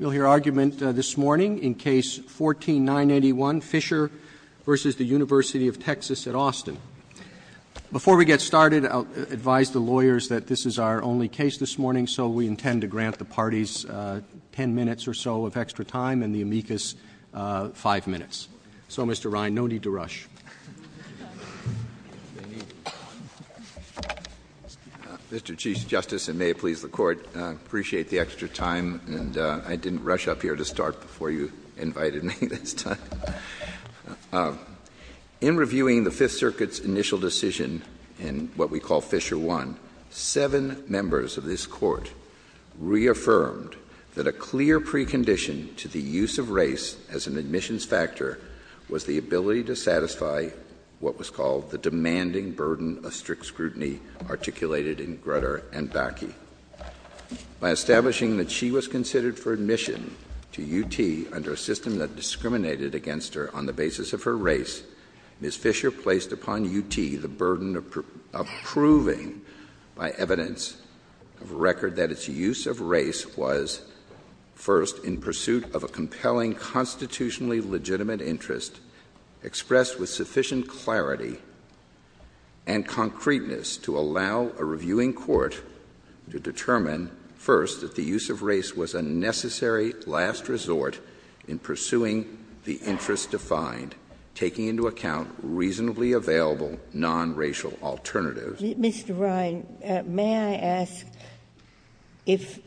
Before we get started, I'll advise the lawyers that this is our only case this morning, so we intend to grant the parties 10 minutes or so of extra time and the amicus 5 minutes. So, Mr. Ryan, no need to rush. Mr. Chief Justice, and may it please the Court, I appreciate the extra time, and I didn't rush up here to start before you invited me this time. In reviewing the Fifth Circuit's initial decision in what we call Fisher I, seven members of this Court reaffirmed that a clear precondition to the use of race as an admissions factor was the ability to satisfy what was called the demanding burden of strict scrutiny articulated in Grutter and Bakke. By establishing that she was considered for admission to UT under a system that discriminated against her on the basis of her race, Ms. Fisher placed upon UT the burden of proving by evidence of a record that its use of race was, first, in pursuit of a compelling constitutionally legitimate interest expressed with sufficient clarity and concreteness to allow a review in court to determine, first, that the use of race was a necessary last resort in pursuing the interest defined, taking into account reasonably available nonracial alternatives. JUSTICE GINSBURG Mr. Ryan, may I ask, if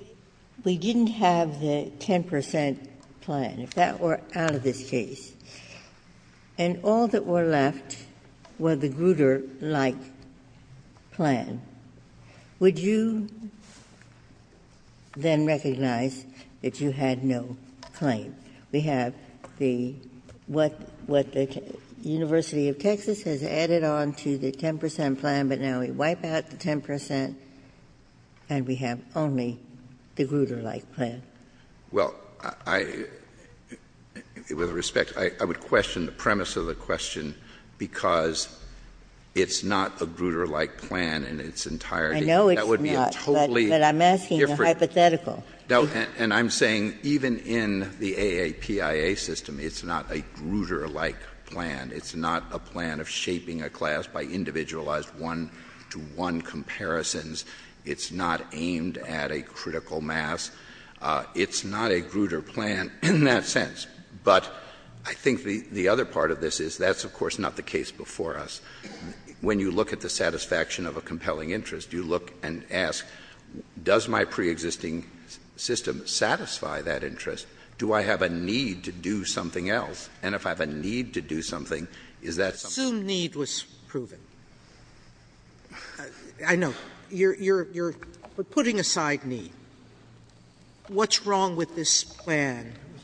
we didn't have the 10 percent plan, if that were out of this case, and all that were left were the Grutter-like plan, would you then recognize that you had no claim? JUSTICE GINSBURG Well, with respect, I would question the premise of the question because it's not a Grutter-like plan in its entirety. And I'm saying even in the AAPIA system, it's not a Grutter-like plan, it's not a plan of shaping a class by individualized one-to-one comparisons, it's not aimed at a critical mass, it's not a Grutter plan in that sense. But I think the other part of this is that's, of course, not the case before us. When you look at the satisfaction of a compelling interest, you look and ask, does my preexisting system satisfy that interest, do I have a need to do something else, and if I have a need to do something, is that something else? If need is put aside.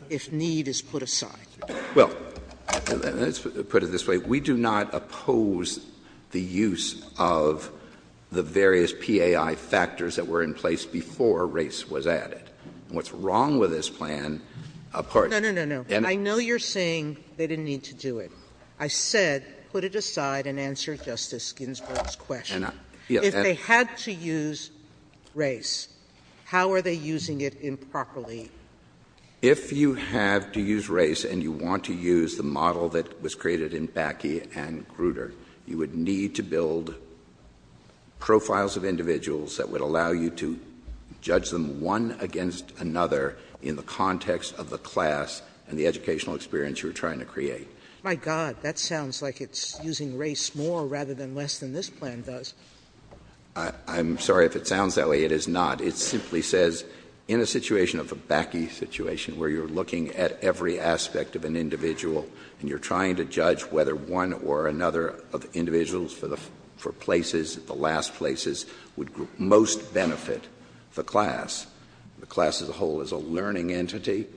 CHIEF JUSTICE ROBERTS, JR.: Well, let's put it this way. We do not oppose the use of the various PAI factors that were in place before race was added. What's wrong with this plan, of course — JUSTICE SOTOMAYOR No, no, no, no. I know you're saying they didn't need to do it. I said put it aside and answer Justice Ginsburg's question. If they had to use race, how are they using it improperly? CHIEF JUSTICE ROBERTS, JR.: If you have to use race and you want to use the model that was created in Bakke and Grutter, you would need to build profiles of individuals that would allow you to judge them one against another in the context of the class and the educational experience you were trying to create. JUSTICE SOTOMAYOR My God, that sounds like it's using race more rather than less than this plan does. CHIEF JUSTICE ROBERTS, JR.: I'm sorry if it sounds that way. It is not. It simply says in a situation of a Bakke situation where you're looking at every aspect of an individual and you're trying to judge whether one or another of individuals for places, the last places, would most benefit the class, the class as a whole as a learning entity,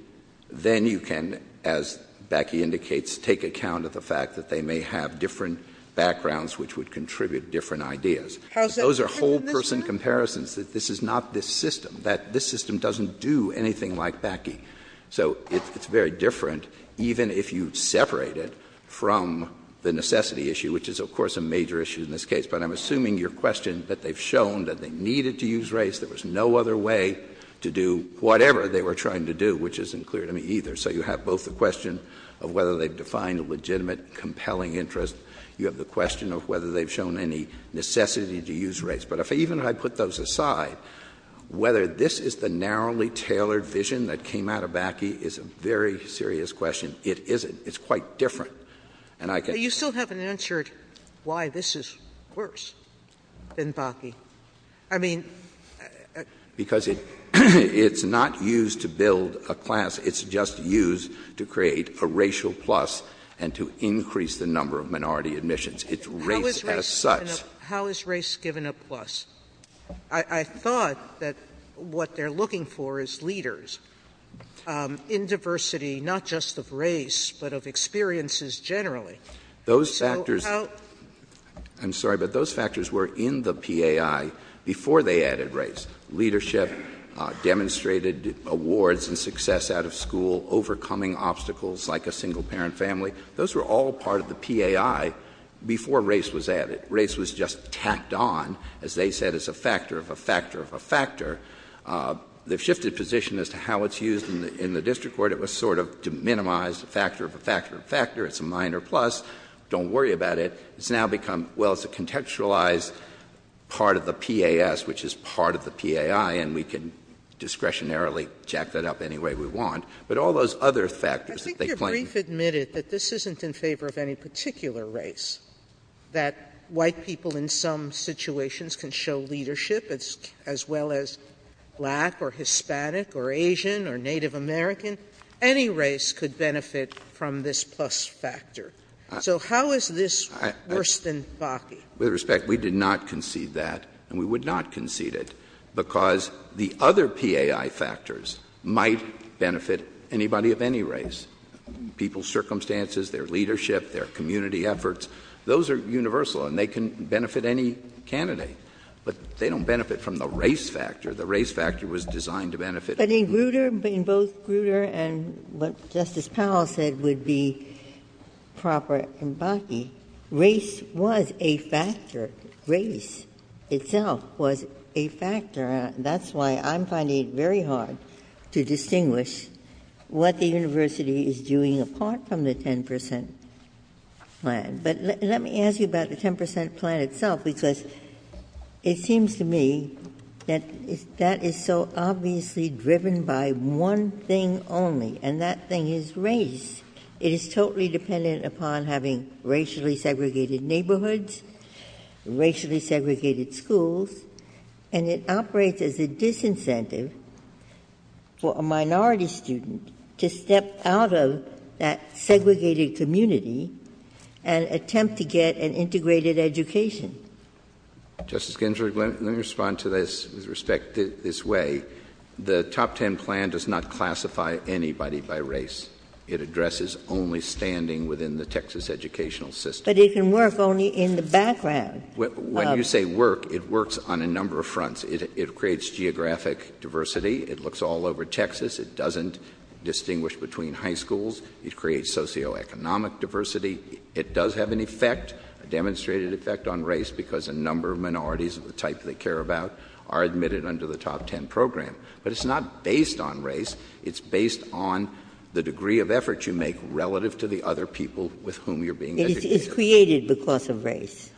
then you can, as Bakke indicates, take account of the fact that they may have different backgrounds which would contribute different ideas. Those are whole person comparisons, that this is not this system, that this system doesn't do anything like Bakke. So it's very different even if you separate it from the necessity issue, which is, of course, a major issue in this case. But I'm assuming your question that they've shown that they needed to use race, there was no other way to do whatever they were trying to do, which isn't clear to me either. So you have both the question of whether they've defined a legitimate, compelling interest. You have the question of whether they've shown any necessity to use race. But even if I put those aside, whether this is the narrowly tailored vision that came out of Bakke is a very serious question. It isn't. And I can't— JUSTICE SOTOMAYORE – So you still haven't answered why this is worse than Bakke? I mean— JUSTICE SOTOMAYORE – How is race given a plus? I thought that what they're looking for is leaders in diversity, not just of race, but of experiences generally. I'm sorry, but those factors were in the PAI before they added race. Leadership demonstrated awards and success out of school, overcoming obstacles like a single-parent family. Those were all part of the PAI before race was added. Race was just tacked on, as they said, as a factor of a factor of a factor. They've shifted position as to how it's used in the district court. It was sort of to minimize the factor of a factor of a factor. It's a minor plus. Don't worry about it. It's now become, well, it's a contextualized part of the PAS, which is part of the PAI, and we can discretionarily jack that up any way we want. But all those other factors that they claim— JUSTICE SOTOMAYORE – I think you've briefly admitted that this isn't in favor of any particular race, that white people in some situations can show leadership, as well as black or Hispanic or Asian or Native American. Any race could benefit from this plus factor. So how is this worse than FACI? JUSTICE BREYER – With respect, we did not concede that, and we would not concede it, because the other PAI factors might benefit anybody of any race. People's circumstances, their leadership, their community efforts, those are universal, and they can benefit any candidate. But they don't benefit from the race factor. The race factor was designed to benefit— JUSTICE GINSBURG – But in Grutter, in both Grutter and what Justice Powell said would be proper in Bakke, race was a factor. Race itself was a factor. That's why I'm finding it very hard to distinguish what the university is doing apart from the 10 percent plan. But let me ask you about the 10 percent plan itself, because it seems to me that that is so obviously driven by one thing only, and that thing is race. It is totally dependent upon having racially segregated neighborhoods, racially segregated schools, and it operates as a disincentive for a minority student to step out of that segregated community and attempt to get an integrated education. JUSTICE BREYER – Justice Ginsburg, let me respond to this with respect this way. The top 10 plan does not classify anybody by race. It addresses only standing within the Texas educational system. JUSTICE GINSBURG – But it can work only in the background. JUSTICE BREYER – When you say work, it works on a number of fronts. It creates geographic diversity. It looks all over Texas. It doesn't distinguish between high schools. It creates socioeconomic diversity. It does have an effect, a demonstrated effect, on race because a number of minorities of the type they care about are admitted under the top 10 program. But it's not based on race. It's based on the degree of effort you make relative to the other people with whom you're being educated. JUSTICE GINSBURG – It's created because of race. JUSTICE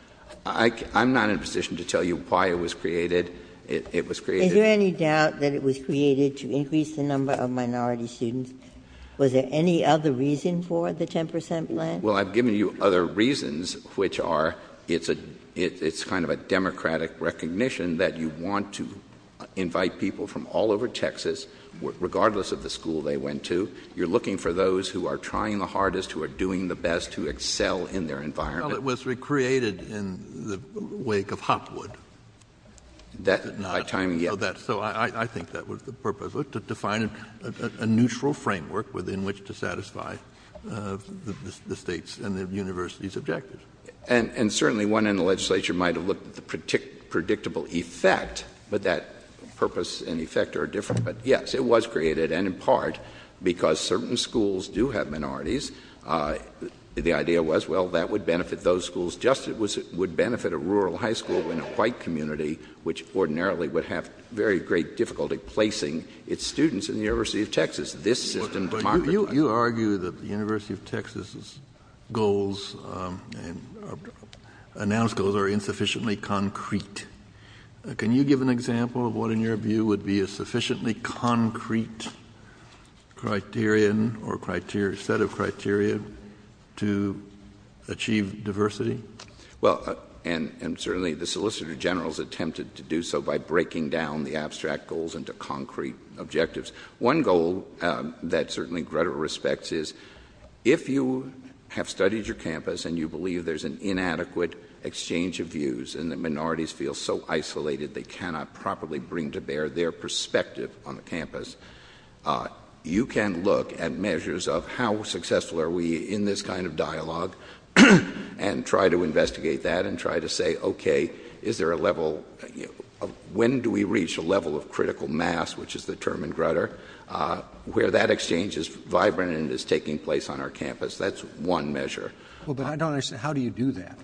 BREYER – I'm not in a position to tell you why it was created. JUSTICE GINSBURG – Is there any doubt that it was created to increase the number of minority students? Was there any other reason for the 10 percent plan? JUSTICE BREYER – Well, I've given you other reasons, which are it's kind of a democratic recognition that you want to invite people from all over Texas, regardless of the school they went to. You're looking for those who are trying the hardest, who are doing the best, who excel in their environment. JUSTICE BREYER – Well, it was recreated in the wake of Hopwood. So I think that was the purpose. To define a neutral framework within which to satisfy the state's and the university's objectives. JUSTICE BREYER – And certainly one in the legislature might have looked at the predictable effect, but that purpose and effect are different. JUSTICE BREYER – Yes, it was created, and in part because certain schools do have minorities. The idea was, well, that would benefit those schools just as it would benefit a rural high school in a white community, which ordinarily would have very great difficulty placing its students in the University of Texas. JUSTICE KENNEDY – But you argue that the University of Texas' goals, announced goals, are insufficiently concrete. Can you give an example of what, in your view, would be a sufficiently concrete criteria, or set of criteria, to achieve diversity? JUSTICE BREYER – Well, and certainly the Solicitor General has attempted to do so by breaking down the abstract goals into concrete objectives. One goal that certainly Greta respects is, if you have studied your campus and you believe there's an inadequate exchange of views and the minorities feel so isolated they cannot properly bring to bear their perspective on the campus, you can look at measures of how successful are we in this kind of dialogue and try to investigate that and try to say, okay, is there a level – when do we reach a level of critical mass, which is the term in Grutter, where that exchange is vibrant and is taking place on our campus? That's one measure. JUSTICE KENNEDY – Well, but I don't understand. How do you do that? JUSTICE BREYER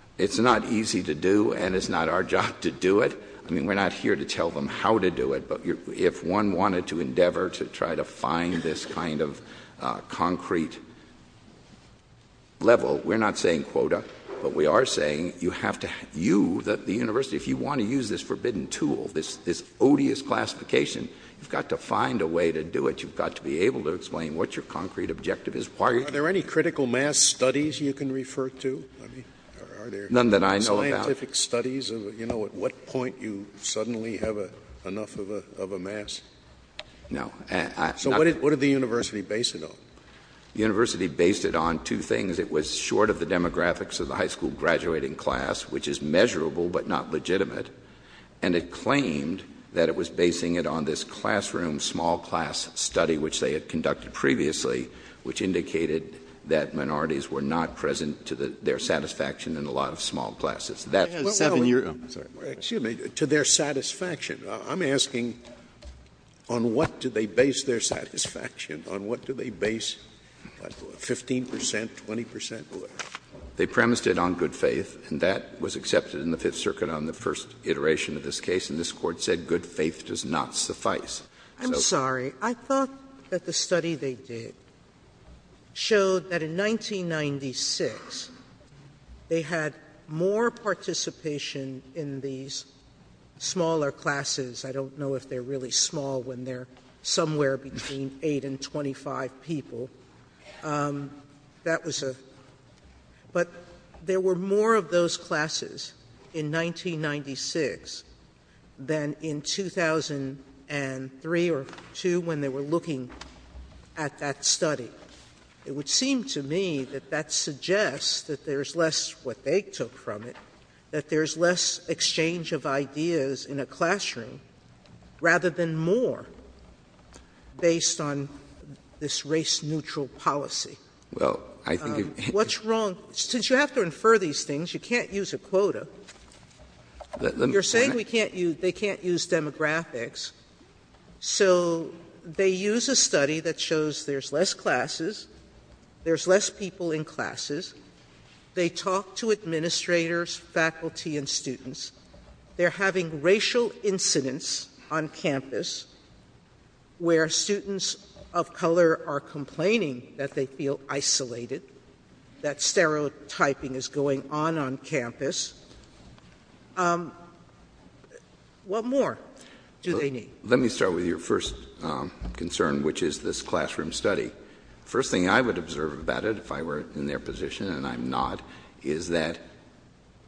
– It's not easy to do, and it's not our job to do it. I mean, we're not here to tell them how to do it, but if one wanted to endeavor to try to find this kind of concrete level, we're not saying quota, but we are saying you have to – you, the university, if you want to use this forbidden tool, this odious classification, you've got to find a way to do it. You've got to be able to explain what your concrete objective is. JUSTICE KENNEDY – Are there any critical mass studies you can refer to? JUSTICE BREYER – None that I know about. JUSTICE KENNEDY – Scientific studies of, you know, at what point you suddenly have enough of a mass? JUSTICE BREYER – No. JUSTICE KENNEDY – So what did the university base it on? JUSTICE BREYER – The university based it on two things. It was short of the demographics of the high school graduating class, which is measurable but not legitimate, and it claimed that it was basing it on this classroom small class study, which they had conducted previously, which indicated that minorities were not present to their satisfaction in a lot of small classes. That's – JUSTICE KENNEDY – Excuse me. To their satisfaction. I'm asking on what do they base their satisfaction? On what do they base 15 percent, 20 percent? JUSTICE BREYER – They premised it on good faith, and that was accepted in the Fifth Circuit on the first iteration of this case, and this Court said good faith does not suffice. JUSTICE SOTOMAYOR – I'm sorry. I thought that the study they did showed that in 1996, they had more participation in these smaller classes. I don't know if they're really small when they're somewhere between 8 and 25 people. That was a – but there were more of those classes in 1996 than in 2003 or 2002 when they were looking at that study. It would seem to me that that suggests that there's less what they took from it, that there's less exchange of ideas in a classroom rather than more, based on this race-neutral policy. JUSTICE BREYER – Well, I think you – JUSTICE SOTOMAYOR – What's wrong – since you have to infer these things, you can't use a quota. You're saying we can't use – they can't use demographics. So they use a study that shows there's less classes, there's less people in classes. They talk to administrators, faculty, and students. They're having racial incidents on campus where students of color are complaining that they feel isolated, that stereotyping is going on on campus. What more do they need? JUSTICE BREYER – Let me start with your first concern, which is this classroom study. The first thing I would observe about it, if I were in their position, and I'm not, is that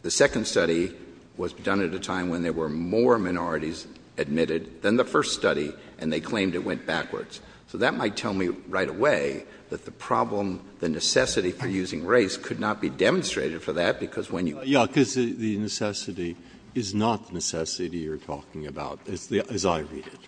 the second study was done at a time when there were more minorities admitted than the first study, and they claimed it went backwards. So that might tell me right away that the problem, the necessity for using race could not be demonstrated for that because when you – JUSTICE BREYER – Yeah, because the necessity is not necessity you're talking about, as I read it.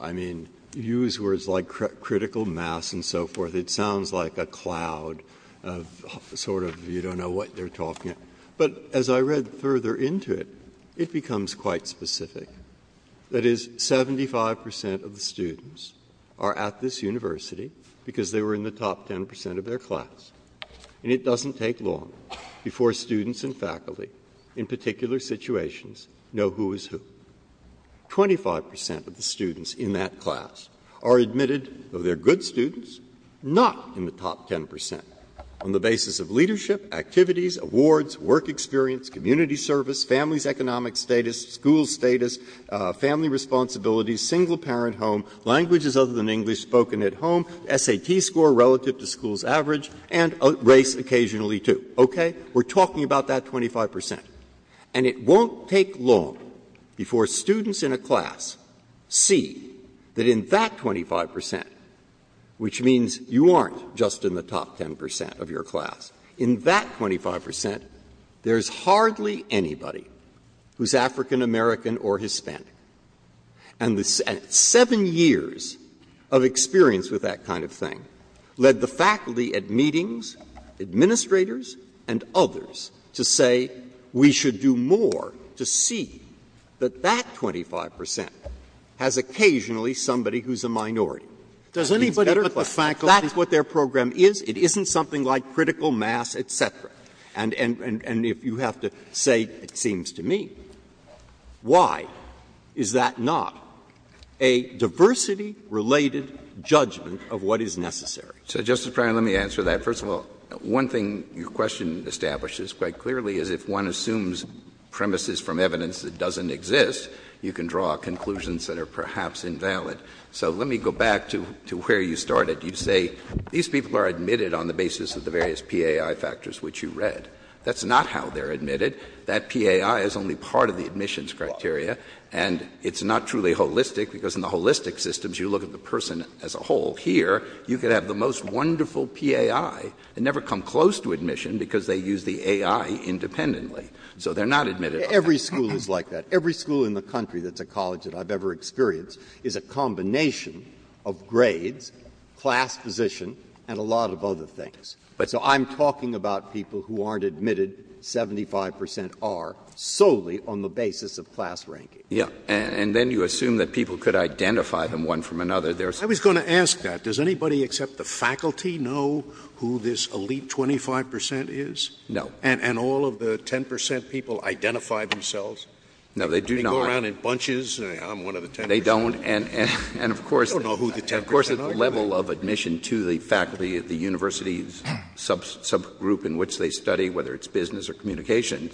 I mean, you use words like critical mass and so forth. It sounds like a cloud of sort of you don't know what they're talking about. But as I read further into it, it becomes quite specific. That is, 75 percent of the students are at this university because they were in the top 10 percent of their class. And it doesn't take long before students and faculty, in particular situations, know who is who. Twenty-five percent of the students in that class are admitted of they're good students, not in the top 10 percent, on the basis of leadership, activities, awards, work experience, community service, family's economic status, school status, family responsibilities, single parent home, languages other than English spoken at home, SAT score relative to school's average, and race occasionally, too. Okay? We're talking about that 25 percent. And it won't take long before students in a class see that in that 25 percent, which means you aren't just in the top 10 percent of your class, in that 25 percent, there's hardly anybody who's African American or Hispanic. And seven years of experience with that kind of thing led the faculty at meetings, administrators, and others, to say we should do more to see that that 25 percent has occasionally somebody who's a minority. Does anybody know what the faculty, what their program is? It isn't something like critical mass, et cetera. And if you have to say, it seems to me, why is that not a diversity-related judgment of what is necessary? So, Justice Breyer, let me answer that. First of all, one thing your question establishes quite clearly is if one assumes premises from evidence that doesn't exist, you can draw conclusions that are perhaps invalid. So let me go back to where you started. You say these people are admitted on the basis of the various PAI factors which you read. That's not how they're admitted. That PAI is only part of the admissions criteria, and it's not truly holistic because in the holistic systems, you look at the person as a whole. Here, you could have the most wonderful PAI and never come close to admission because they use the AI independently. So they're not admitted. Every school is like that. Every school in the country that's a college that I've ever experienced is a combination of grades, class position, and a lot of other things. So I'm talking about people who aren't admitted, 75 percent are, solely on the basis of class ranking. And then you assume that people could identify them one from another. I was going to ask that. Does anybody except the faculty know who this elite 25 percent is? No. And all of the 10 percent people identify themselves? No, they do not. They hang around in bunches. I'm one of the 10 percent. They don't. And, of course, the level of admission to the faculty at the university's subgroup in which they study, whether it's business or communication,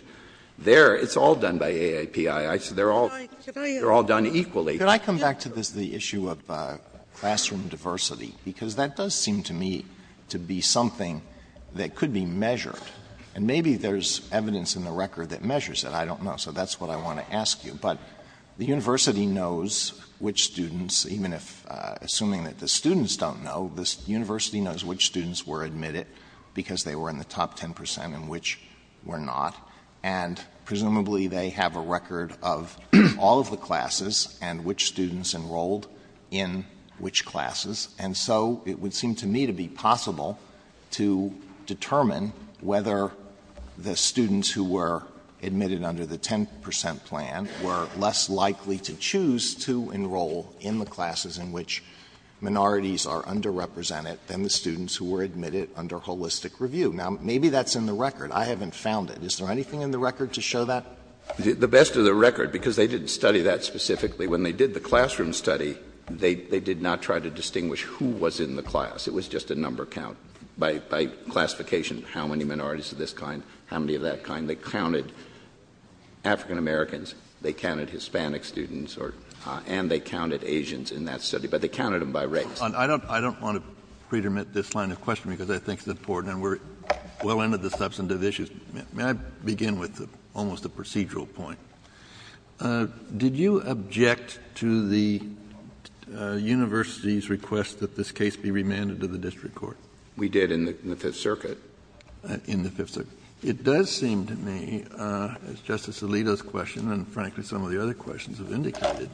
it's all done by AAPI. They're all done equally. Can I come back to the issue of classroom diversity? Because that does seem to me to be something that could be measured. And maybe there's evidence in the record that measures it. I don't know. So that's what I want to ask you. But the university knows which students, even if assuming that the students don't know, the university knows which students were admitted because they were in the top 10 percent and which were not. And presumably they have a record of all of the classes and which students enrolled in which classes. And so it would seem to me to be possible to determine whether the students who were admitted under the 10 percent plan were less likely to choose to enroll in the classes in which minorities are underrepresented than the students who were admitted under holistic review. Now, maybe that's in the record. I haven't found it. Is there anything in the record to show that? The best of the record, because they didn't study that specifically. When they did the classroom study, they did not try to distinguish who was in the class. It was just a number count by classification, how many minorities of this kind, how many of that kind. They counted African-Americans. They counted Hispanic students. And they counted Asians in that study. But they counted them by race. I don't want to predomit this line of questioning because I think it's important. And we're well into the substantive issues. May I begin with almost a procedural point? Did you object to the university's request that this case be remanded to the district court? We did in the Fifth Circuit. In the Fifth Circuit. It does seem to me, as Justice Alito's question and, frankly, some of the other questions have indicated,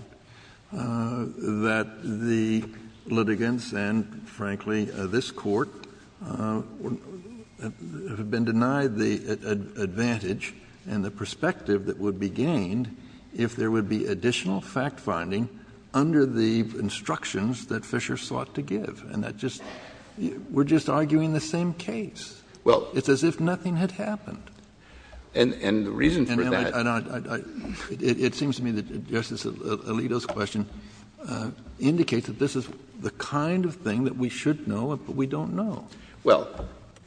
that the litigants and, frankly, this court have been denied the advantage and the perspective that would be gained if there would be additional fact-finding under the instructions that Fisher sought to give. And we're just arguing the same case. It's as if nothing had happened. And the reason for that... It seems to me that Justice Alito's question indicates that this is the kind of thing that we should know but we don't know. Well,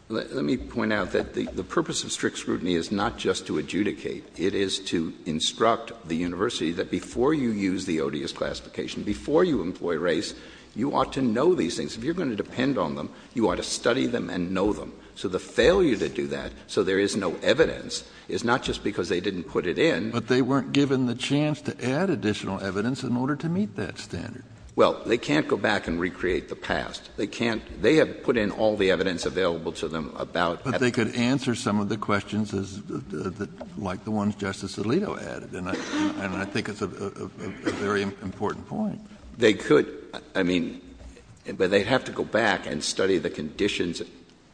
let me point out that the purpose of strict scrutiny is not just to adjudicate. It is to instruct the university that before you use the odious classification, before you employ race, you ought to know these things. If you're going to depend on them, you ought to study them and know them. So the failure to do that so there is no evidence is not just because they didn't put it in... But they weren't given the chance to add additional evidence in order to meet that standard. Well, they can't go back and recreate the past. They can't... They have put in all the evidence available to them about... But they could answer some of the questions like the ones Justice Alito added. And I think it's a very important point. They could, I mean... But they'd have to go back and study the conditions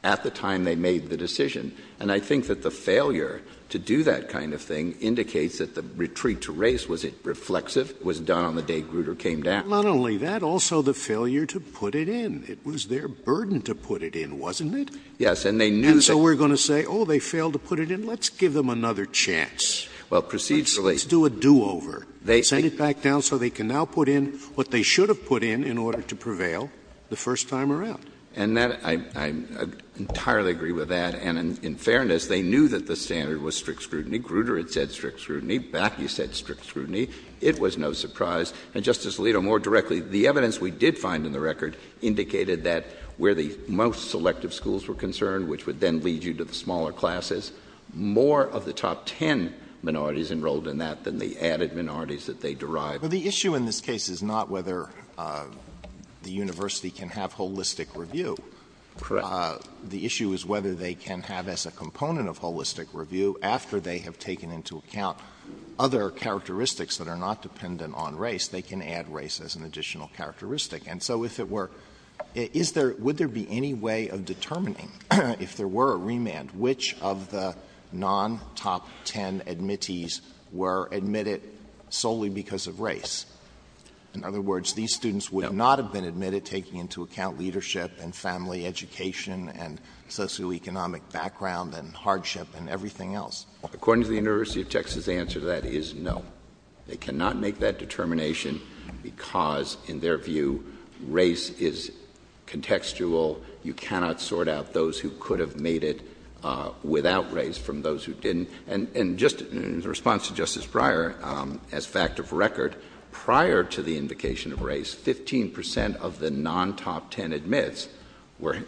at the time they made the decision. And I think that the failure to do that kind of thing indicates that the retreat to race was reflexive, was done on the day Grutter came down. Not only that, also the failure to put it in. It was their burden to put it in, wasn't it? Yes, and they knew... And so we're going to say, oh, they failed to put it in, let's give them another chance. Well, procedurally... Let's do a do-over. Set it back down so they can now put in what they should have put in in order to prevail the first time around. And I entirely agree with that. And in fairness, they knew that the standard was strict scrutiny. Grutter had said strict scrutiny. Bakke said strict scrutiny. It was no surprise. And Justice Alito, more directly, the evidence we did find in the record indicated that where the most selective schools were concerned, which would then lead you to the smaller classes, more of the top ten minorities enrolled in that than the added minorities that they derived. But the issue in this case is not whether the university can have holistic review. Correct. The issue is whether they can have, as a component of holistic review, after they have taken into account other characteristics that are not dependent on race, they can add race as an additional characteristic. And so if it were... Would there be any way of determining, if there were a remand, which of the non-top ten admittees were admitted solely because of race? In other words, these students would not have been admitted taking into account leadership and family education and socioeconomic background and hardship and everything else. According to the University of Texas, the answer to that is no. They cannot make that determination because, in their view, race is contextual. You cannot sort out those who could have made it without race from those who didn't. And just in response to Justice Breyer, as a fact of record, prior to the indication of race, 15% of the non-top ten admits were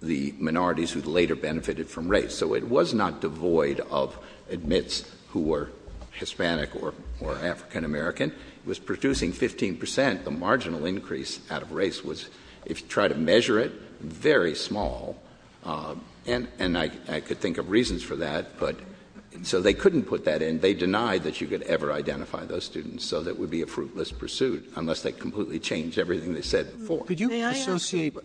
the minorities who later benefited from race. So it was not devoid of admits who were Hispanic or African-American. It was producing 15%. And yet the marginal increase out of race was, if you try to measure it, very small. And I could think of reasons for that. So they couldn't put that in. They denied that you could ever identify those students, so that would be a fruitless pursuit, unless they completely changed everything they said before. Could you associate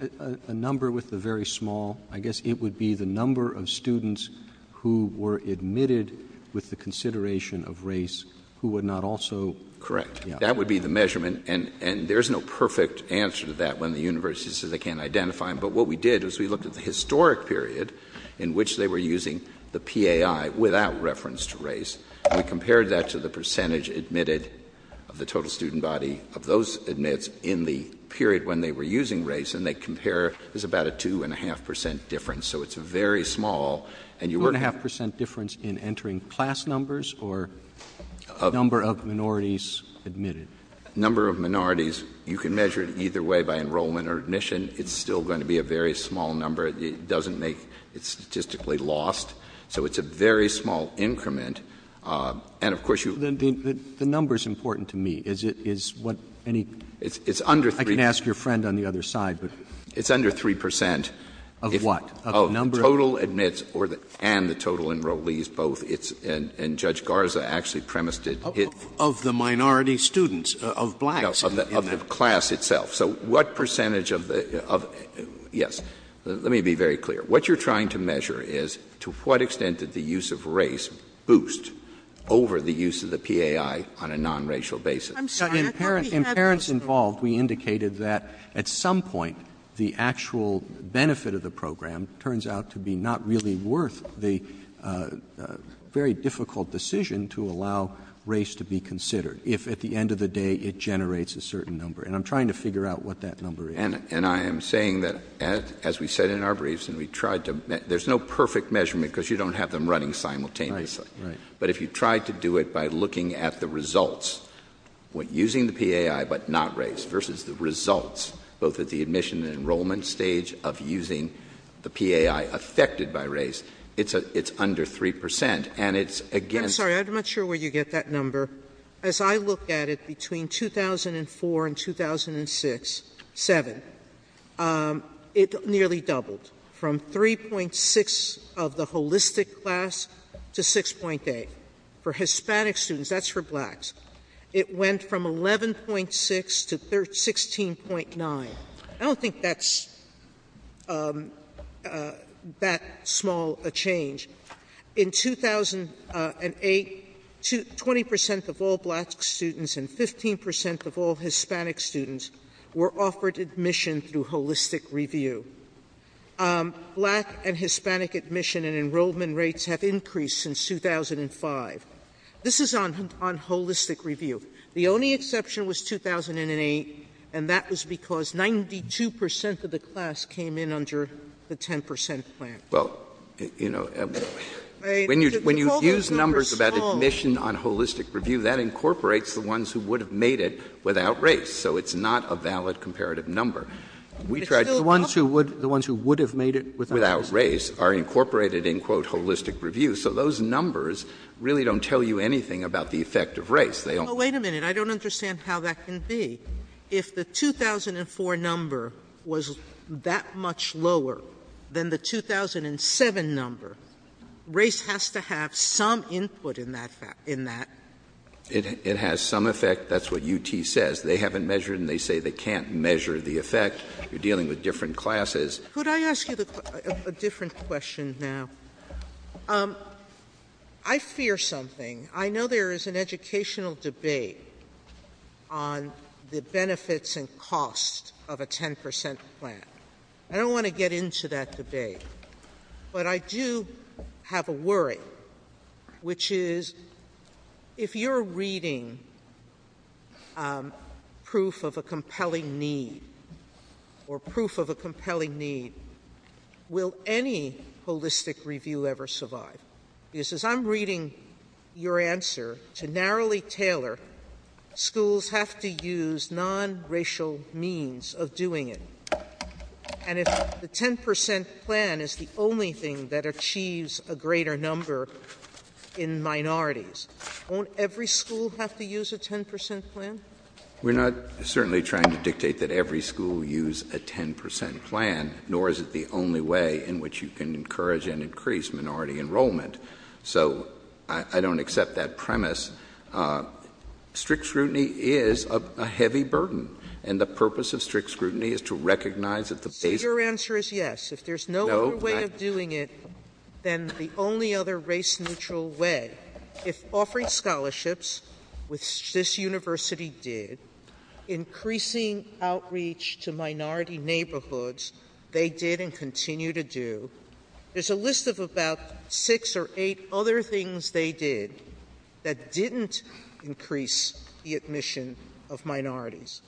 a number with the very small? I guess it would be the number of students who were admitted with the consideration of race who would not also... Correct. That would be the measurement. And there's no perfect answer to that when the universities say they can't identify them. But what we did was we looked at the historic period in which they were using the PAI without reference to race. We compared that to the percentage admitted of the total student body of those admits in the period when they were using race, and they compare. There's about a 2.5% difference, so it's very small. 2.5% difference in entering class numbers or number of minorities admitted? Number of minorities. You can measure it either way, by enrollment or admission. It's still going to be a very small number. It doesn't make... It's statistically lost. So it's a very small increment. And, of course, you... The number's important to me. Is it what any... I can ask your friend on the other side, but... It's under 3%. Of what? Of the number of... Of total admits and the total enrollees, both it's... And Judge Garza actually premised it... Of the minority students, of blacks. Yes, of the class itself. So what percentage of the... Yes, let me be very clear. What you're trying to measure is to what extent did the use of race boost over the use of the PAI on a nonracial basis? I'm sorry, I thought you said... In parents involved, we indicated that at some point the actual benefit of the program turns out to be not really worth the very difficult decision to allow race to be considered if, at the end of the day, it generates a certain number. And I'm trying to figure out what that number is. And I am saying that, as we said in our briefs, and we tried to... There's no perfect measurement because you don't have them running simultaneously. Right, right. But if you tried to do it by looking at the results when using the PAI but not race versus the results, both at the admission and enrollment stage of using the PAI affected by race, it's under 3%, and it's against... I'm sorry, I'm not sure where you get that number. As I looked at it between 2004 and 2006, seven, it nearly doubled from 3.6 of the holistic class to 6.8. For Hispanic students, that's for blacks. It went from 11.6 to 16.9. I don't think that's that small a change. In 2008, 20% of all black students and 15% of all Hispanic students were offered admission through holistic review. Black and Hispanic admission and enrollment rates have increased since 2005. This is on holistic review. The only exception was 2008, and that was because 92% of the class came in under the 10% plan. Well, you know, when you use numbers about admission on holistic review, that incorporates the ones who would have made it without race, so it's not a valid comparative number. The ones who would have made it without race are incorporated in, quote, holistic review, so those numbers really don't tell you anything about the effect of race. Wait a minute. I don't understand how that can be. If the 2004 number was that much lower than the 2007 number, race has to have some input in that. It has some effect. That's what UT says. They haven't measured, and they say they can't measure the effect. You're dealing with different classes. Could I ask you a different question now? I fear something. I know there is an educational debate on the benefits and costs of a 10% plan. I don't want to get into that debate, but I do have a worry, which is if you're reading proof of a compelling need or proof of a compelling need, will any holistic review ever survive? Because as I'm reading your answer, to narrowly tailor, schools have to use nonracial means of doing it, and if the 10% plan is the only thing that achieves a greater number in minorities, won't every school have to use a 10% plan? We're not certainly trying to dictate that every school use a 10% plan, nor is it the only way in which you can encourage and increase minority enrollment, so I don't accept that premise. Strict scrutiny is a heavy burden, and the purpose of strict scrutiny is to recognize that the basic... Your answer is yes. If there's no other way of doing it, then the only other race-neutral way, if offering scholarships, which this university did, increasing outreach to minority neighborhoods, they did and continue to do, there's a list of about six or eight other things they did that didn't increase the admission of minorities.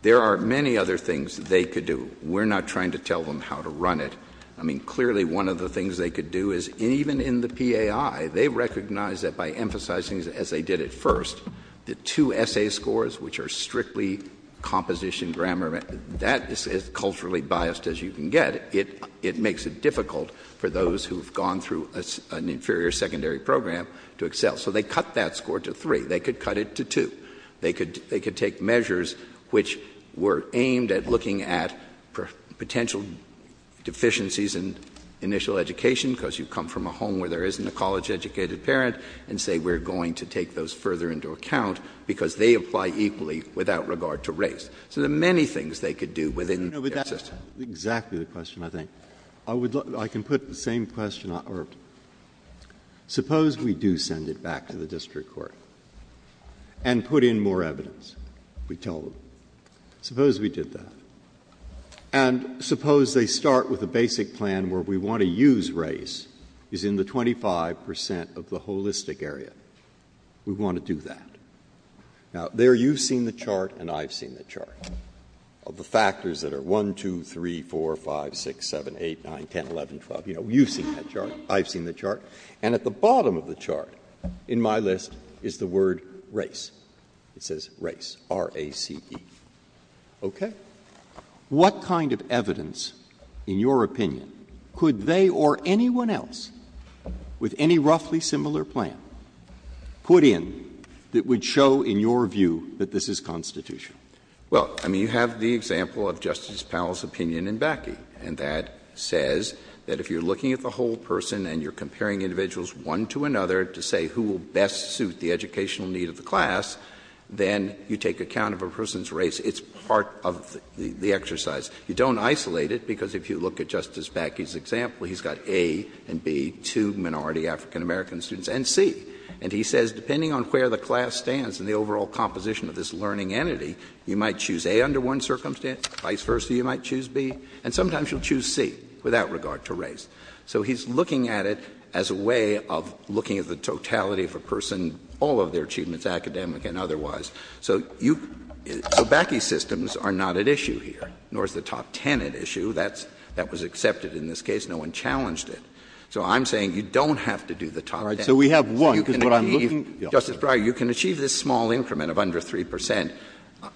There are many other things they could do. We're not trying to tell them how to run it. I mean, clearly, one of the things they could do is, even in the PAI, they recognize that by emphasizing, as they did at first, the two essay scores, which are strictly composition grammar, that is as culturally biased as you can get. It makes it difficult for those who've gone through an inferior secondary program to excel. So they cut that score to three. They could cut it to two. They could take measures which were aimed at looking at potential deficiencies in initial education, because you come from a home where there isn't a college-educated parent, and say, we're going to take those further into account because they apply equally without regard to race. So there are many things they could do within their system. Exactly the question, I think. I can put the same question out. Suppose we do send it back to the district court and put in more evidence. We tell them. Suppose we did that. And suppose they start with a basic plan where we want to use race as in the 25% of the holistic area. We want to do that. Now, there you've seen the chart, and I've seen the chart, of the factors that are 1, 2, 3, 4, 5, 6, 7, 8, 9, 10, 11, 12. You've seen that chart. I've seen the chart. And at the bottom of the chart, in my list, is the word race. It says race, R-A-C-E. Okay. What kind of evidence, in your opinion, could they or anyone else with any roughly similar plan put in that would show, in your view, that this is constitutional? Well, I mean, you have the example of Justice Powell's opinion in Bakke. And that says that if you're looking at the whole person and you're comparing individuals one to another to say who will best suit the educational needs of the class, then you take account of a person's race. It's part of the exercise. You don't isolate it, because if you look at Justice Bakke's example, he's got A and B, two minority African-American students, and C. And he says, depending on where the class stands in the overall composition of this learning entity, you might choose A under one circumstance. Vice versa, you might choose B. And sometimes you'll choose C without regard to race. So he's looking at it as a way of looking at the totality of a person, all of their achievements, academic and otherwise. So Bakke's systems are not at issue here, nor is the top ten at issue. That was accepted in this case. No one challenged it. So I'm saying you don't have to do the top ten. All right. So we have one. Justice Breyer, you can achieve this small increment of under 3 percent,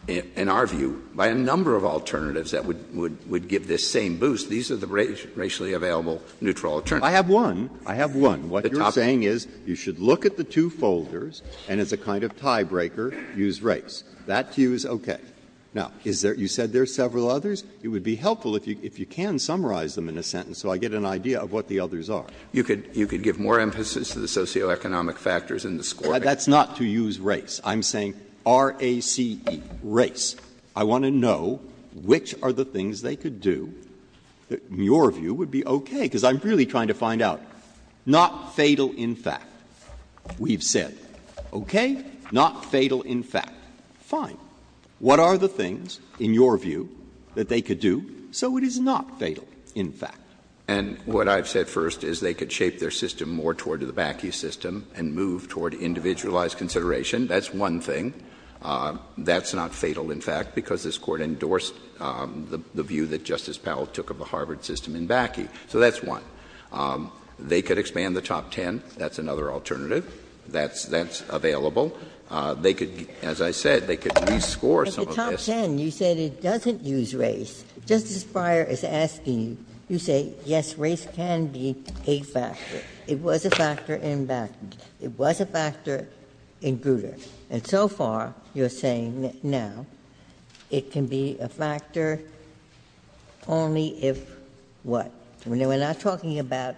in our view, by a number of alternatives that would give this same boost. These are the racially available neutral alternatives. I have one. What you're saying is you should look at the two folders, and as a kind of tiebreaker, use race. That's used okay. Now, you said there are several others. It would be helpful if you can summarize them in a sentence so I get an idea of what the others are. You could give more emphasis to the socioeconomic factors in the score. That's not to use race. I'm saying R-A-C-E, race. I want to know which are the things they could do that, in your view, would be okay, because I'm really trying to find out. Not fatal in fact, we've said. Okay? Not fatal in fact. Fine. What are the things, in your view, that they could do so it is not fatal in fact? And what I've said first is they could shape their system more toward the BACI system and move toward individualized consideration. That's one thing. That's not fatal in fact, because this Court endorsed the view that Justice Powell took of the Harvard system in BACI. So that's one. They could expand the top ten. That's another alternative. That's available. They could, as I said, they could rescore some of this. At the top ten, you said it doesn't use race. Justice Breyer is asking, you say, yes, race can be a factor. It was a factor in BACI. It was a factor in Grutter. And so far, you're saying now it can be a factor only if what? We're not talking about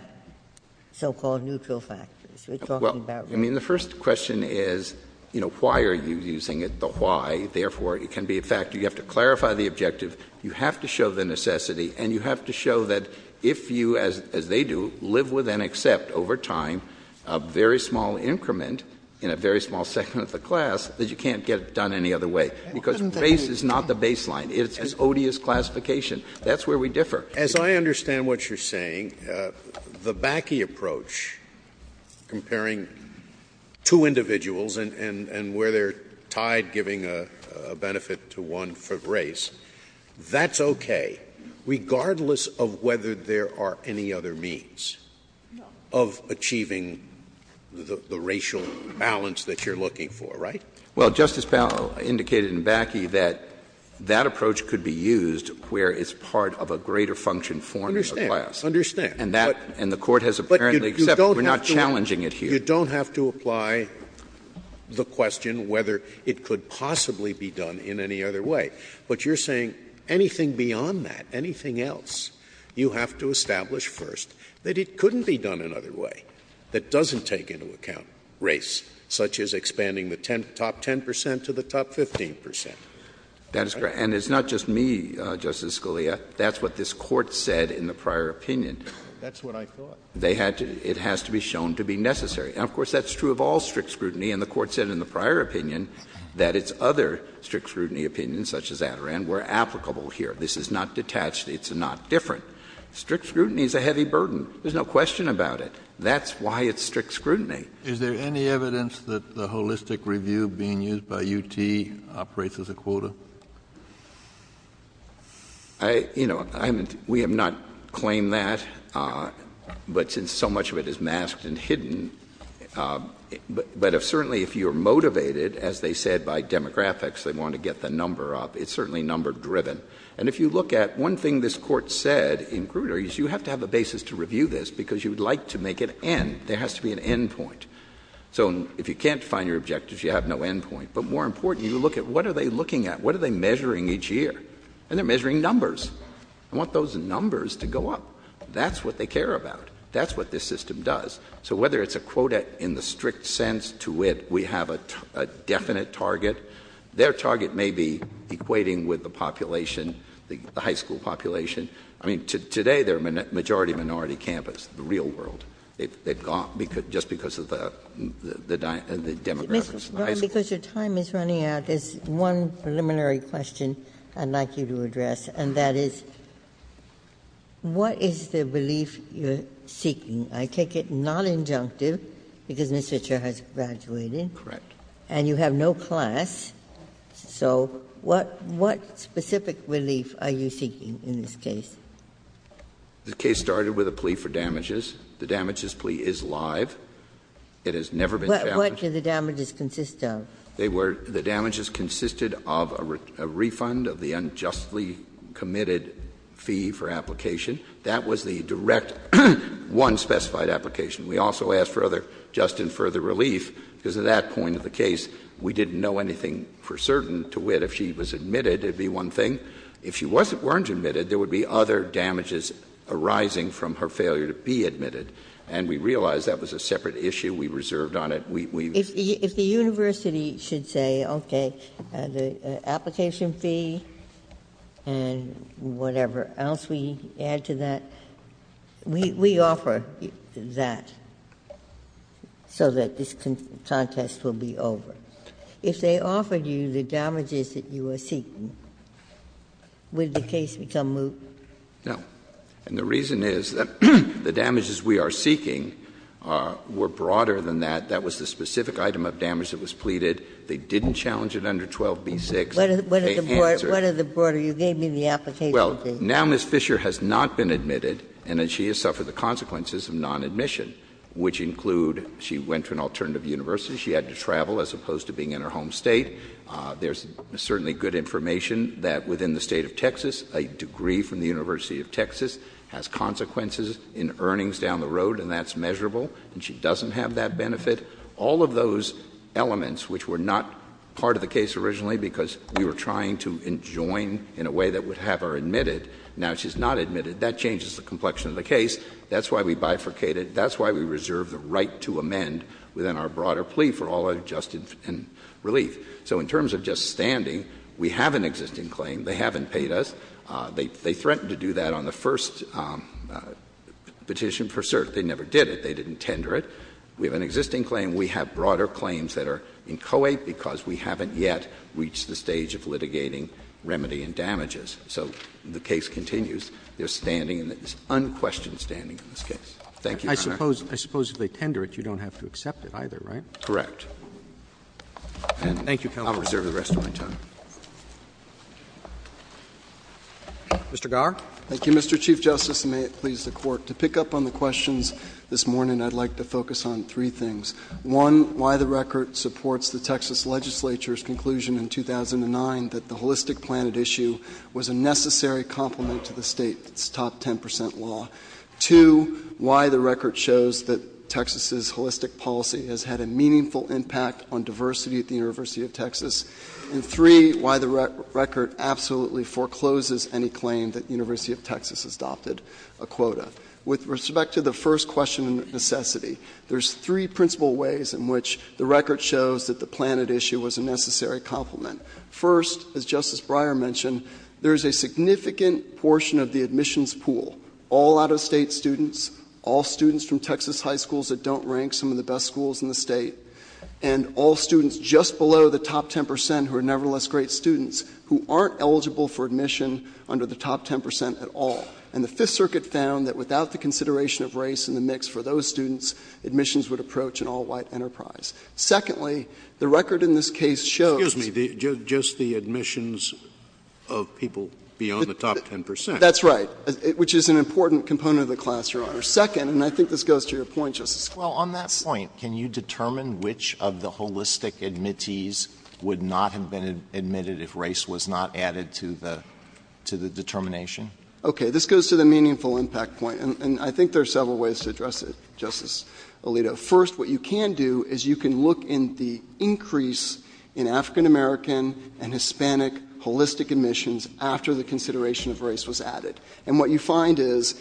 so-called neutral factors. We're talking about race. Well, I mean, the first question is, you know, why are you using it, but why? Therefore, it can be a factor. You have to clarify the objective. You have to show the necessity, and you have to show that if you, as they do, live with and accept over time a very small increment in a very small segment of the class, that you can't get it done any other way, because race is not the baseline. It's odious classification. That's where we differ. As I understand what you're saying, the BACI approach comparing two individuals and where they're tied giving a benefit to one race, that's okay, regardless of whether there are any other means of achieving the racial balance that you're looking for, right? Well, Justice Powell indicated in BACI that that approach could be used where it's part of a greater function form of the class. I understand. I understand. And the Court has apparently accepted we're not challenging it here. So you don't have to apply the question whether it could possibly be done in any other way. But you're saying anything beyond that, anything else, you have to establish first that it couldn't be done another way that doesn't take into account race, such as expanding the top 10 percent to the top 15 percent. That's correct. And it's not just me, Justice Scalia. That's what this Court said in the prior opinion. That's what I thought. It has to be shown to be necessary. And, of course, that's true of all strict scrutiny. And the Court said in the prior opinion that its other strict scrutiny opinions, such as that, were applicable here. This is not detached. It's not different. Strict scrutiny is a heavy burden. There's no question about it. That's why it's strict scrutiny. Is there any evidence that the holistic review being used by UT operates as a quota? You know, we have not claimed that. But since so much of it is masked and hidden, but certainly if you're motivated, as they said, by demographics, they want to get the number up. It's certainly number-driven. And if you look at one thing this Court said in Grutter, you have to have a basis to review this because you'd like to make it end. There has to be an end point. So if you can't find your objectives, you have no end point. But more important, you look at what are they looking at? What are they measuring each year? And they're measuring numbers. I want those numbers to go up. That's what they care about. That's what this system does. So whether it's a quota in the strict sense to where we have a definite target, their target may be equating with the population, the high school population. I mean, today they're a majority-minority campus in the real world. It's gone just because of the demographics. Ms. Warren, because your time is running out, there's one preliminary question I'd like you to address, and that is what is the relief you're seeking? I take it non-injunctive because Mr. Chair has graduated. Correct. And you have no class. So what specific relief are you seeking in this case? The case started with a plea for damages. The damages plea is live. It has never been found. But what do the damages consist of? They were the damages consisted of a refund of the unjustly committed fee for application. That was the direct one specified application. We also asked for other just and further relief because at that point of the case, we didn't know anything for certain to wit. If she was admitted, it would be one thing. If she weren't admitted, there would be other damages arising from her failure to be admitted. And we realized that was a separate issue. We reserved on it. If the university should say, okay, the application fee and whatever else we add to that, we offer that so that this contest will be over. If they offered you the damages that you are seeking, would the case become moot? No. And the reason is that the damages we are seeking were broader than that. That was the specific item of damage that was pleaded. They didn't challenge it under 12b-6. What is the broader? You gave me the application fee. Well, now Ms. Fisher has not been admitted, and then she has suffered the consequences of non-admission, which include she went to an alternative university, she had to travel as opposed to being in her home state. There's certainly good information that within the State of Texas, a degree from the University of Texas has consequences in earnings down the road, and that's measurable. And she doesn't have that benefit. All of those elements which were not part of the case originally because we were trying to enjoin in a way that would have her admitted, now she's not admitted. That changes the complexion of the case. That's why we bifurcated. That's why we reserved the right to amend within our broader plea for all adjusted relief. So in terms of just standing, we have an existing claim. They haven't paid us. They threatened to do that on the first petition for cert. They never did it. They didn't tender it. We have an existing claim. We have broader claims that are in co-ed because we haven't yet reached the stage of litigating remedy and damages. So the case continues. There's standing, and it's unquestioned standing in this case. Thank you, Your Honor. I suppose if they tender it, you don't have to accept it either, right? Correct. Thank you, Counsel. I'll reserve the rest of my time. Mr. Gower? Thank you, Mr. Chief Justice, and may it please the Court. To pick up on the questions this morning, I'd like to focus on three things. One, why the record supports the Texas legislature's conclusion in 2009 that the holistic plan at issue was a necessary complement to the State's top 10 percent law. Two, why the record shows that Texas's holistic policy has had a meaningful impact on diversity at the University of Texas. And three, why the record absolutely forecloses any claim that the University of Texas adopted a quota. With respect to the first question of necessity, there's three principal ways in which the record shows that the plan at issue was a necessary complement. First, as Justice Breyer mentioned, there's a significant portion of the admissions pool all out-of-state students, all students from Texas high schools that don't rank some of the best schools in the State, and all students just below the top 10 percent who are nevertheless great students who aren't eligible for admission under the top 10 percent at all. And the Fifth Circuit found that without the consideration of race in the mix for those students, admissions would approach an all-white enterprise. Secondly, the record in this case shows — Excuse me. Just the admissions of people beyond the top 10 percent. That's right. Which is an important component of the class you're on. Second, and I think this goes to your point, Justice Scalia — Well, on that point, can you determine which of the holistic admittees would not have been admitted if race was not added to the determination? Okay. This goes to the meaningful impact point, and I think there are several ways to address it, Justice Alito. First, what you can do is you can look in the increase in African-American and Hispanic holistic admissions after the consideration of race was added. And what you find is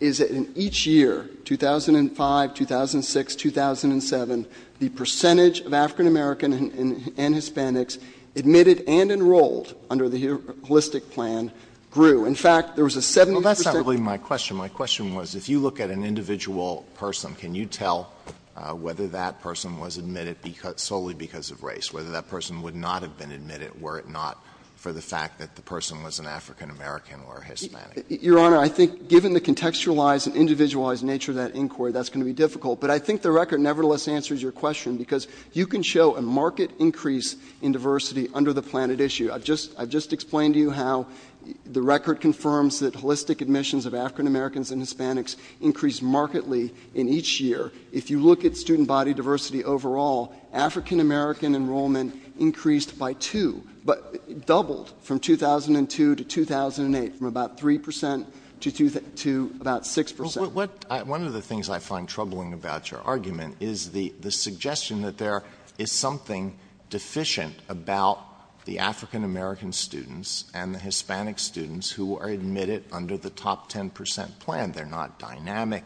that in each year, 2005, 2006, 2007, the percentage of African-American and Hispanics admitted and enrolled under the holistic plan grew. In fact, there was a — Well, that's not really my question. My question was, if you look at an individual person, can you tell whether that person was admitted solely because of race, whether that person would not have been admitted were it Your Honor, I think given the contextualized and individualized nature of that inquiry, that's going to be difficult. But I think the record nevertheless answers your question, because you can show a marked increase in diversity under the plan at issue. I've just explained to you how the record confirms that holistic admissions of African-Americans and Hispanics increased markedly in each year. If you look at student body diversity overall, African-American enrollment increased by two — doubled from 2002 to 2008, from about 3 percent to about 6 percent. One of the things I find troubling about your argument is the suggestion that there is something deficient about the African-American students and the Hispanic students who are admitted under the top 10 percent plan. They're not dynamic.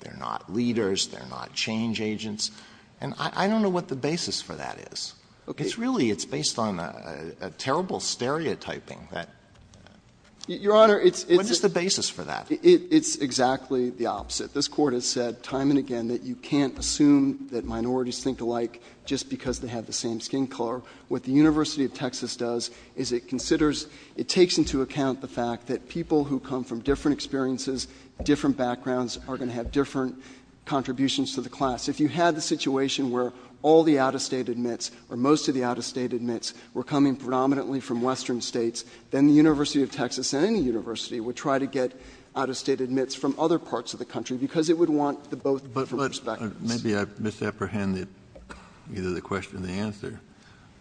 They're not readers. They're not change agents. And I don't know what the basis for that is. It's really based on a terrible stereotyping. What is the basis for that? It's exactly the opposite. This Court has said time and again that you can't assume that minorities think alike just because they have the same skin color. What the University of Texas does is it considers — it takes into account the fact that people who come from different experiences, different backgrounds, are going to have different contributions to the class. If you had the situation where all the out-of-state admits or most of the out-of-state admits were coming predominantly from Western states, then the University of Texas and any university would try to get out-of-state admits from other parts of the country because it would want the both from both perspectives. Maybe I've misapprehended either the question or the answer,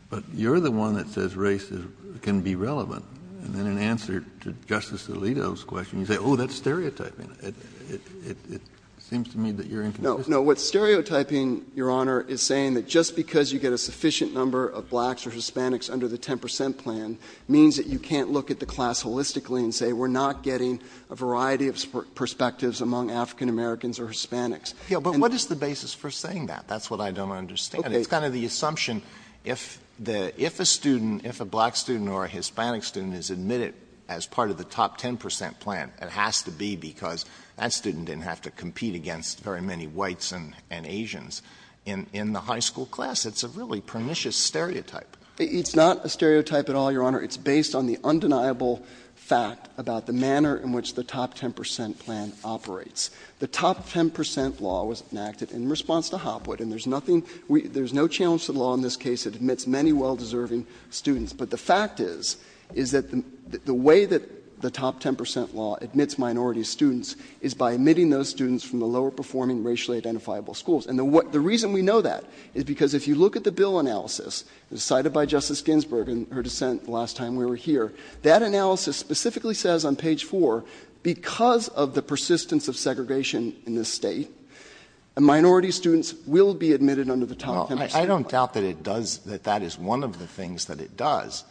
but you're the one that says race can be relevant. And in answer to Justice Alito's question, you say, oh, that's stereotyping. It seems to me that you're — No, no. What's stereotyping, Your Honor, is saying that just because you get a sufficient number of blacks or Hispanics under the 10 percent plan means that you can't look at the class holistically and say we're not getting a variety of perspectives among African-Americans or Hispanics. Yeah, but what is the basis for saying that? That's what I don't understand. It's kind of the assumption if a student, if a black student or a Hispanic student is admitted as part of the top 10 percent plan, it has to be because that student didn't have to compete against very many whites and Asians in the high school class. It's a really pernicious stereotype. It's not a stereotype at all, Your Honor. It's based on the undeniable fact about the manner in which the top 10 percent plan operates. The top 10 percent law was enacted in response to Hopwood, and there's nothing — there's no challenge to the law in this case that admits many well-deserving students. But the fact is, is that the way that the top 10 percent law admits minority students is by admitting those students from the lower-performing racially identifiable schools. And the reason we know that is because if you look at the bill analysis decided by Justice Ginsburg in her dissent the last time we were here, that analysis specifically says on page four, because of the persistence of segregation in this state, minority students will be admitted under the top 10 percent plan. Well, I don't doubt that it does — that that is one of the things that it does.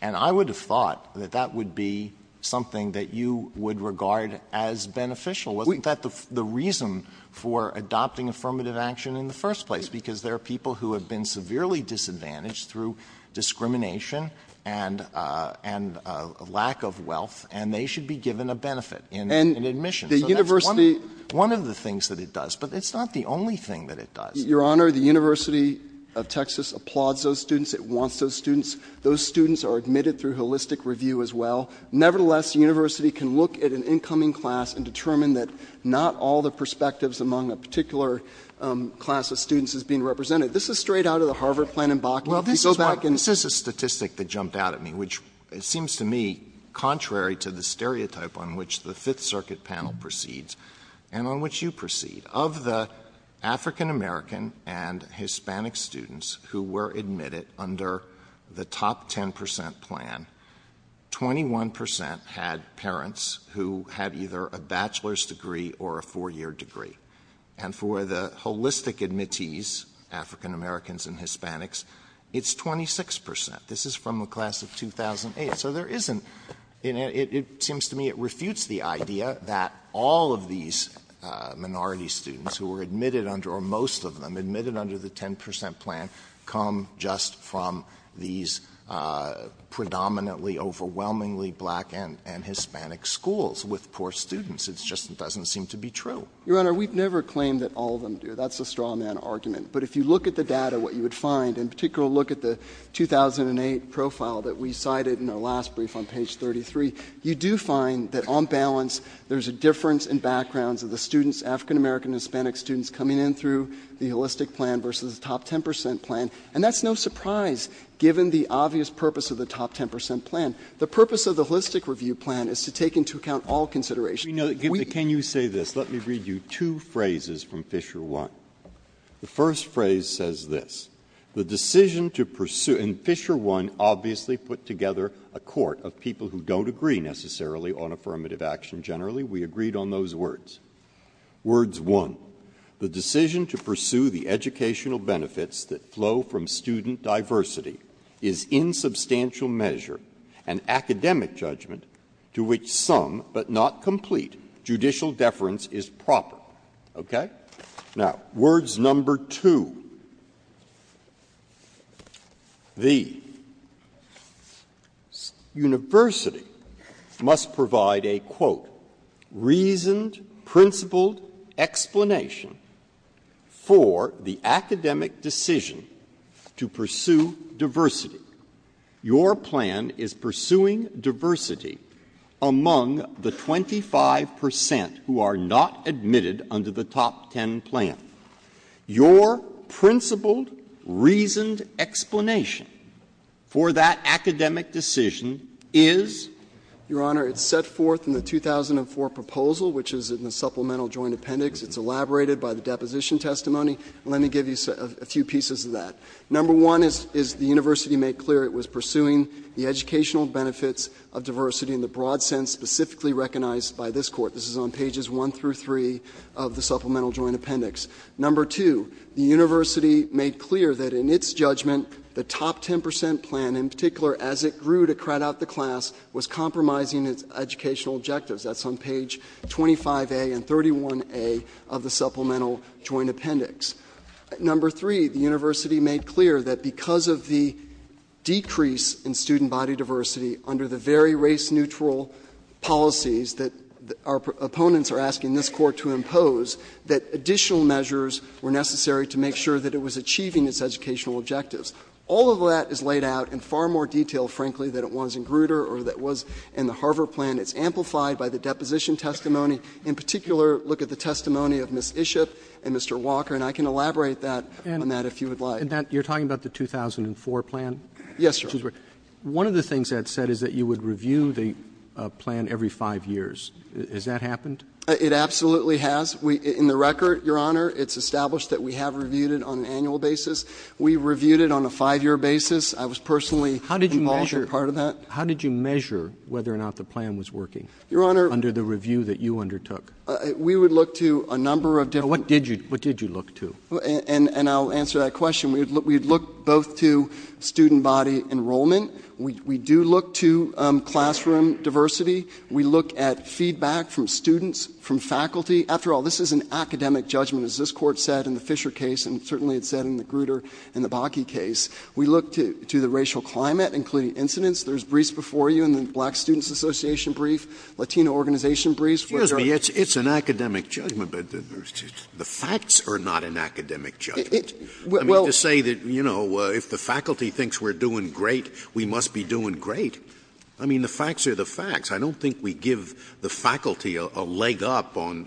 And I would have thought that that would be something that you would regard as beneficial. We've got the reason for adopting affirmative action in the first place, because there are people who have been severely disadvantaged through discrimination and lack of wealth, and they should be given a benefit in admission. And the university — So that's one of the things that it does. But it's not the only thing that it does. Your Honor, the University of Texas applauds those students. It wants those students. Those students are admitted through holistic review as well. Nevertheless, the university can look at an incoming class and determine that not all the perspectives among a particular class of students is being represented. This is straight out of the Harvard plan and Bachman. If you go back and — Well, this is a statistic that jumped out at me, which seems to me contrary to the stereotype on which the Fifth Circuit panel proceeds and on which you proceed. Of the African-American and Hispanic students who were admitted under the top 10 percent plan, 21 percent had parents who had either a bachelor's degree or a four-year degree. And for the holistic admittees, African-Americans and Hispanics, it's 26 percent. This is from a class of 2008. So there isn't — it seems to me it refutes the idea that all of these minority students who were admitted under — or most of them admitted under the 10 percent plan come just from these predominantly, overwhelmingly black and Hispanic schools with poor students. It just doesn't seem to be true. Your Honor, we've never claimed that all of them do. That's a straw man argument. But if you look at the data, what you would find, in particular look at the 2008 profile that we cited in the last brief on page 33, you do find that on balance there's a difference in backgrounds of the students, African-American and Hispanic students, coming in through the holistic plan versus the top 10 percent plan. And that's no surprise, given the obvious purpose of the top 10 percent plan. The purpose of the holistic review plan is to take into account all considerations. Can you say this? Let me read you two phrases from Fisher 1. The first phrase says this. The decision to pursue — and Fisher 1 obviously put together a court of people who don't agree necessarily on affirmative action generally. We agreed on those words. Words one, the decision to pursue the educational benefits that flow from student diversity is in substantial measure an academic judgment to which some, but not complete, judicial deference is proper. Okay? Now, words number two. The university must provide a, quote, reasoned, principled explanation for the academic decision to pursue diversity. Your plan is pursuing diversity among the 25 percent who are not admitted under the top 10 plan. Your principled, reasoned explanation for that academic decision is — Your Honor, it's set forth in the 2004 proposal, which is in the supplemental joint appendix. It's elaborated by the deposition testimony. Let me give you a few pieces of that. Number one is the university made clear it was pursuing the educational benefits of diversity in the broad sense specifically recognized by this court. This is on pages one through three of the supplemental joint appendix. Number two, the university made clear that in its judgment, the top 10 percent plan, in particular as it grew to crowd out the class, was compromising its educational objectives. That's on page 25A and 31A of the supplemental joint appendix. Number three, the university made clear that because of the decrease in student body diversity under the very race-neutral policies that our opponents are asking this court to impose, that additional measures were necessary to make sure that it was achieving its educational objectives. All of that is laid out in far more detail, frankly, than it was in Grutter or than it was in the Harvard plan. It's amplified by the deposition testimony. In particular, look at the testimony of Ms. Ishop and Mr. Walker. And I can elaborate on that if you would like. And you're talking about the 2004 plan? Yes, sir. One of the things that's said is that you would review the plan every five years. Has that happened? It absolutely has. In the record, Your Honor, it's established that we have reviewed it on an annual basis. We reviewed it on a five-year basis. I was personally involved in part of that. How did you measure whether or not the plan was working under the review that you undertook? Your Honor, we would look to a number of different things. What did you look to? And I'll answer that question. We'd look both to student body enrollment. We do look to classroom diversity. We look at feedback from students, from faculty. After all, this is an academic judgment, as this Court said in the Fisher case, and certainly it said in the Grutter and the Bakke case. We look to the racial climate, including incidents. There's briefs before you in the Black Students Association brief, Latino organization briefs. It's an academic judgment, but the facts are not an academic judgment. I mean, to say that, you know, if the faculty thinks we're doing great, we must be doing great. I mean, the facts are the facts. I don't think we give the faculty a leg up on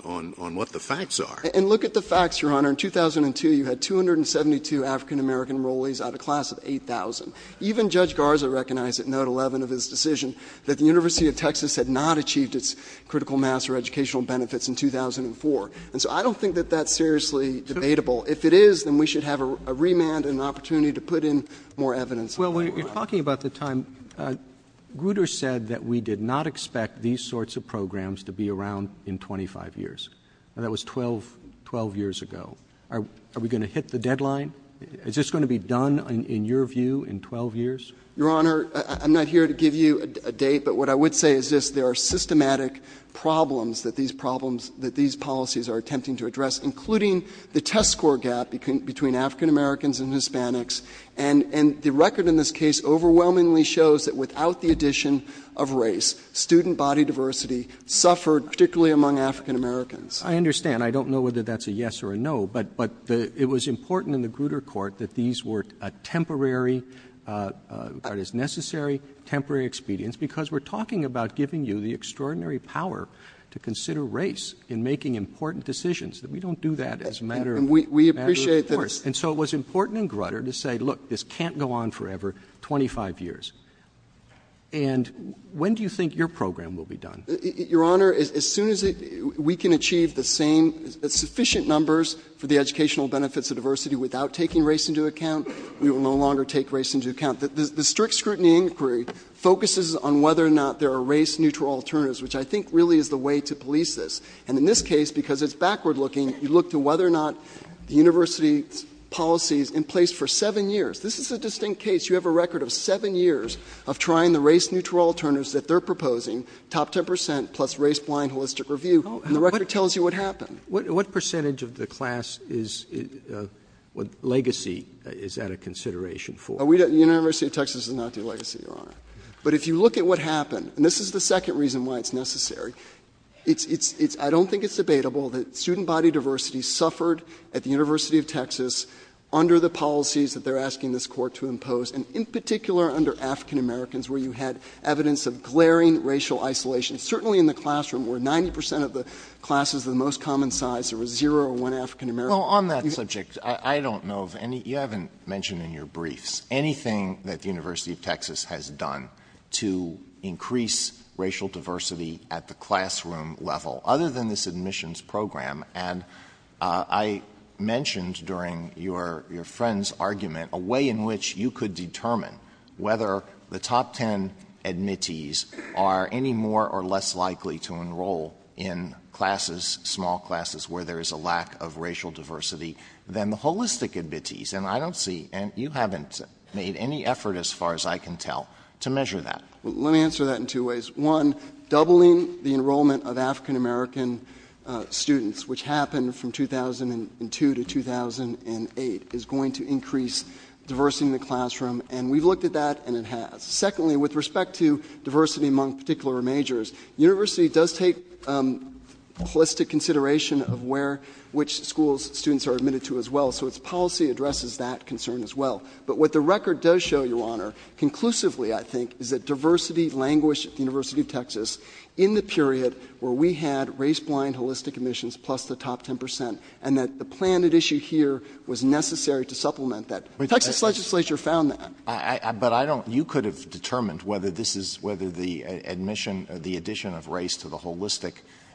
what the facts are. And look at the facts, Your Honor. In 2002, you had 272 African-American enrollees out of a class of 8,000. Even Judge Garza recognized at Note 11 of his decision that the University of Texas had not achieved its critical master educational benefits in 2004. And so I don't think that that's seriously debatable. If it is, then we should have a remand and an opportunity to put in more evidence. Well, you're talking about the time. Grutter said that we did not expect these sorts of programs to be around in 25 years. That was 12 years ago. Are we going to hit the deadline? Is this going to be done, in your view, in 12 years? Your Honor, I'm not here to give you a date, but what I would say is this. There are systematic problems that these policies are attempting to address, including the test score gap between African-Americans and Hispanics. And the record in this case overwhelmingly shows that without the addition of race, student body diversity suffered particularly among African-Americans. I understand. I don't know whether that's a yes or a no. But it was important in the Grutter Court that these were a temporary, what is necessary, temporary expedience, because we're talking about giving you the extraordinary power to consider race in making important decisions. We don't do that as a matter of course. And so it was important in Grutter to say, look, this can't go on forever, 25 years. And when do you think your program will be done? Your Honor, as soon as we can achieve the same sufficient numbers for the educational benefits of diversity without taking race into account, we will no longer take race into account. The strict scrutiny inquiry focuses on whether or not there are race-neutral alternatives, which I think really is the way to police this. And in this case, because it's backward-looking, you look to whether or not the university policy is in place for seven years. This is a distinct case. You have a record of seven years of trying the race-neutral alternatives that they're proposing, top 10% plus race-blind holistic review, and the record tells you what happened. What percentage of the class is legacy? Is that a consideration for? The University of Texas is not the legacy, Your Honor. But if you look at what happened, and this is the second reason why it's necessary, I don't think it's debatable that student body diversity suffered at the University of Texas under the policies that they're asking this court to impose, and in particular under African-Americans, where you had evidence of glaring racial isolation. Certainly in the classroom, where 90% of the classes of the most common size, there was zero or one African-American. Well, on that subject, I don't know of any, you haven't mentioned in your briefs anything that the University of Texas has done to increase racial diversity at the classroom level, other than this admissions program. And I mentioned during your friend's argument a way in which you could determine whether the top 10 admittees are any more or less likely to enroll in classes, small classes, where there is a lack of racial diversity than the holistic admittees. And I don't see, and you haven't made any effort as far as I can tell to measure that. Let me answer that in two ways. One, doubling the enrollment of African-American students, which happened from 2002 to 2008, is going to increase diversity in the classroom. And we've looked at that, and it has. Secondly, with respect to diversity among particular majors, the University does take holistic consideration of which schools students are admitted to as well. So its policy addresses that concern as well. But what the record does show, Your Honor, conclusively I think, is that diversity languished at the University of Texas in the period where we had race-blind holistic admissions plus the top 10%, and that the planned issue here was necessary to supplement that. The Texas legislature found that. But I don't, you could have determined whether this is, whether the admission or the addition of race to the holistic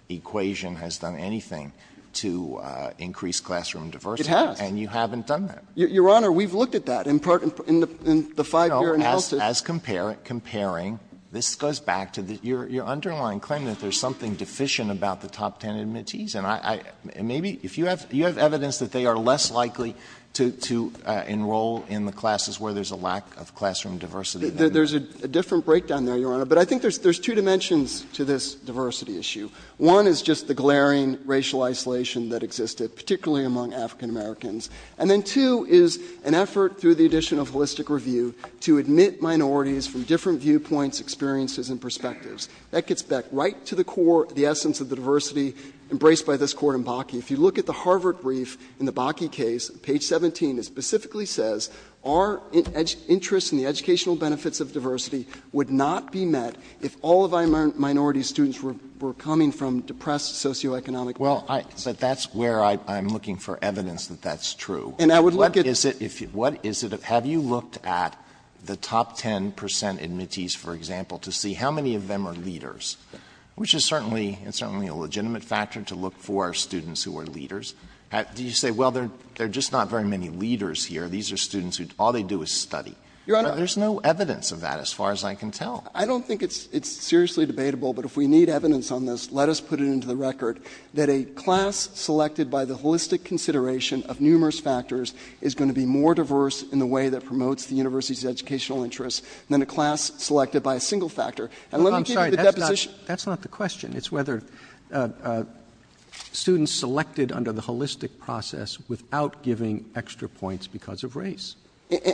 equation has done anything to increase classroom diversity. It has. And you haven't done that. Your Honor, we've looked at that in the five-year analysis. As comparing, this goes back to your underlying claim that there's something deficient about the top 10 admittees. And maybe, if you have evidence that they are less likely to enroll in the classes where there's a lack of classroom diversity. There's a different breakdown there, Your Honor. But I think there's two dimensions to this diversity issue. One is just the glaring racial isolation that existed, particularly among African Americans. And then two is an effort through the addition of holistic review to admit minorities from different viewpoints, experiences, and perspectives. That gets back right to the core, the essence of the diversity embraced by this court in Bakke. If you look at the Harvard brief in the Bakke case, page 17, it specifically says our interest in the educational benefits of diversity would not be met if all of our minority students were coming from depressed socioeconomic backgrounds. Well, that's where I'm looking for evidence that that's true. And I would look at- What is it, have you looked at the top 10% admittees, for example, to see how many of them are leaders? Which is certainly a legitimate factor to look for students who are leaders. You say, well, there are just not very many leaders here. These are students who all they do is study. There's no evidence of that as far as I can tell. I don't think it's seriously debatable, but if we need evidence on this, let us put it into the record that a class selected by the holistic consideration of numerous factors is going to be more diverse in the way that promotes the university's educational interests than a class selected by a single factor. I'm sorry, that's not the question. It's whether students selected under the holistic process without giving extra points because of race.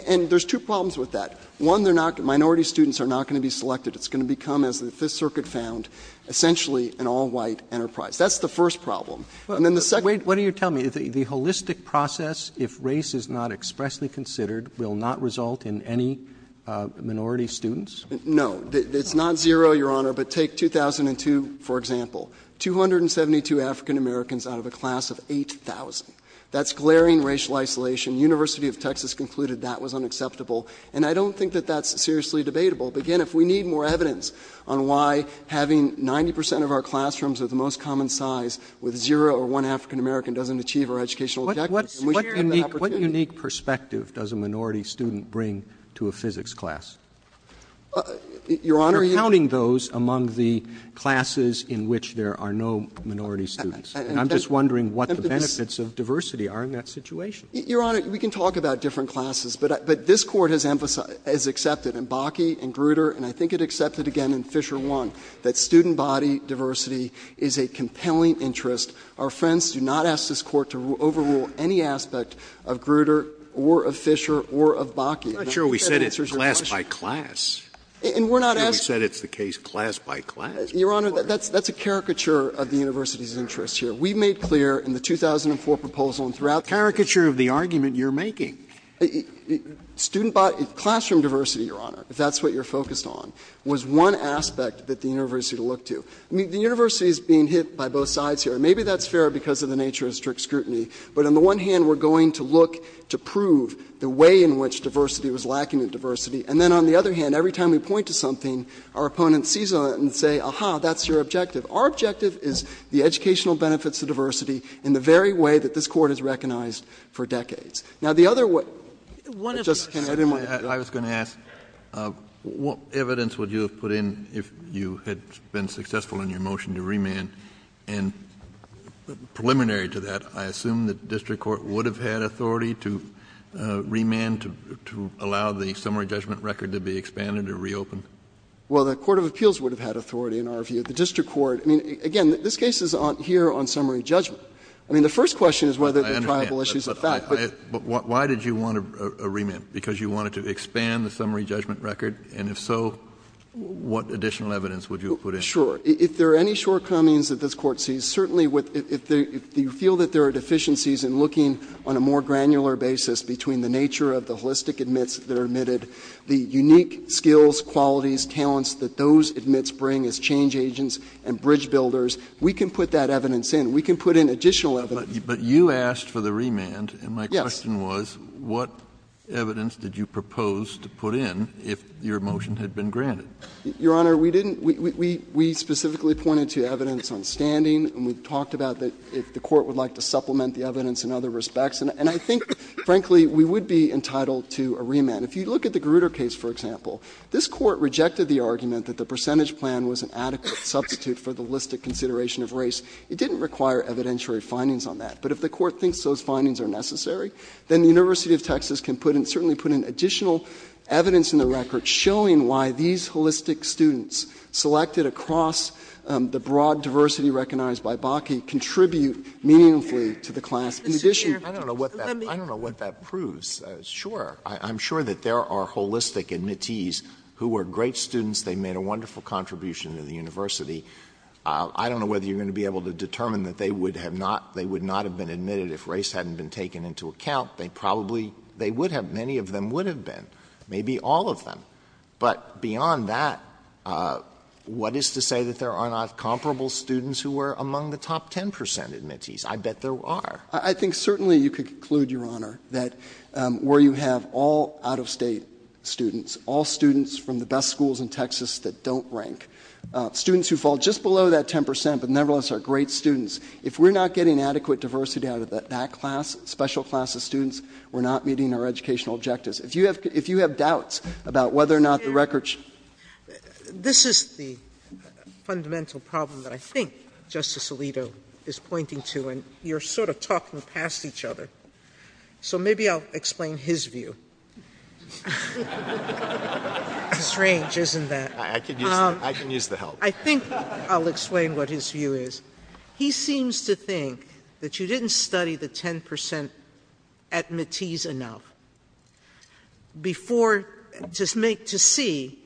And there's two problems with that. One, minority students are not going to be selected. It's going to become, as the Fifth Circuit found, essentially an all-white enterprise. That's the first problem. And then the second- Wait, what are you telling me? The holistic process, if race is not expressly considered, will not result in any minority students? No. It's not zero, Your Honor. But take 2002, for example. 272 African-Americans out of a class of 8,000. That's glaring racial isolation. The University of Texas concluded that was unacceptable. And I don't think that that's seriously debatable. But again, if we need more evidence on why having 90 percent of our classrooms with the most common size with zero or one African-American doesn't achieve our educational objectives- What unique perspective does a minority student bring to a physics class? Your Honor- We're counting those among the classes in which there are no minority students. And I'm just wondering what the benefits of diversity are in that situation. Your Honor, we can talk about different classes. But this Court has accepted in Bakke and Grutter, and I think it accepted again in Fisher 1, that student body diversity is a compelling interest. Our friends do not ask this Court to overrule any aspect of Grutter or of Fisher or of Bakke. I'm not sure we said it's class by class. We said it's the case class by class. Your Honor, that's a caricature of the University's interest here. We made clear in the 2004 proposal and throughout- Caricature of the argument you're making. Student body- classroom diversity, Your Honor, if that's what you're focused on, was one aspect that the University looked to. The University is being hit by both sides here. Maybe that's fair because of the nature of strict scrutiny. But on the one hand, we're going to look to prove the way in which diversity was lacking in diversity. And then on the other hand, every time we point to something, our opponent sees it and says, aha, that's your objective. Our objective is the educational benefits of diversity in the very way that this Court has recognized for decades. Now the other way- I was going to ask, what evidence would you have put in if you had been successful in your motion to remand? And preliminary to that, I assume that the District Court would have had authority to remand to allow the summary judgment record to be expanded or reopened? Well, the Court of Appeals would have had authority in our view. The District Court- I mean, again, this case is here on summary judgment. I mean, the first question is whether there are viable issues of fact. But why did you want a remand? Because you wanted to expand the summary judgment record? And if so, what additional evidence would you have put in? Sure. If there are any shortcomings that this Court sees, certainly if you feel that there are deficiencies in looking on a more granular basis between the nature of the holistic admits that are admitted, the unique skills, qualities, talents that those admits bring as change agents and bridge builders, we can put that evidence in. We can put in additional evidence. But you asked for the remand. Yes. And my question was, what evidence did you propose to put in if your motion had been granted? Your Honor, we didn't- we specifically pointed to evidence on standing, and we talked about if the Court would like to supplement the evidence in other respects. And I think, frankly, we would be entitled to a remand. If you look at the Grutter case, for example, this Court rejected the argument that the percentage plan was an adequate substitute for the holistic consideration of race. It didn't require evidentiary findings on that. But if the Court thinks those findings are necessary, then the University of Texas can put in- certainly put in additional evidence in the record showing why these holistic students selected across the broad diversity recognized by Bakken contribute meaningfully to the class. In addition- I don't know what that proves. Sure. I'm sure that there are holistic admittees who are great students. They made a wonderful contribution to the university. I don't know whether you're going to be able to determine that they would not have been admitted if race hadn't been taken into account. They probably- they would have. Many of them would have been. Maybe all of them. But beyond that, what is to say that there are not comparable students who are among the top ten percent admittees? I bet there are. I think certainly you could conclude, Your Honor, that where you have all out-of-state students, all students from the best schools in Texas that don't rank, students who fall just below that ten percent but nevertheless are great students. If we're not getting adequate diversity out of that class, special class of students, we're not meeting our educational objectives. If you have doubts about whether or not the records- This is the fundamental problem that I think Justice Alito is pointing to, and you're sort of talking past each other. So maybe I'll explain his view. His range, isn't that? I could use the help. I think I'll explain what his view is. He seems to think that you didn't study the ten percent admittees enough. Just to see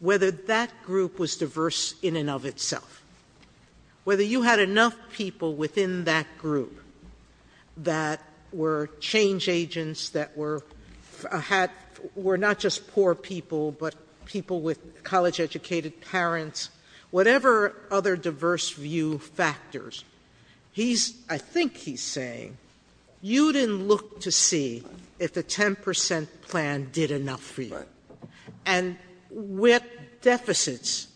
whether that group was diverse in and of itself. Whether you had enough people within that group that were change agents, that were not just poor people but people with college-educated parents, whatever other diverse view factors. I think he's saying, you didn't look to see if the ten percent plan did enough for you. And with deficits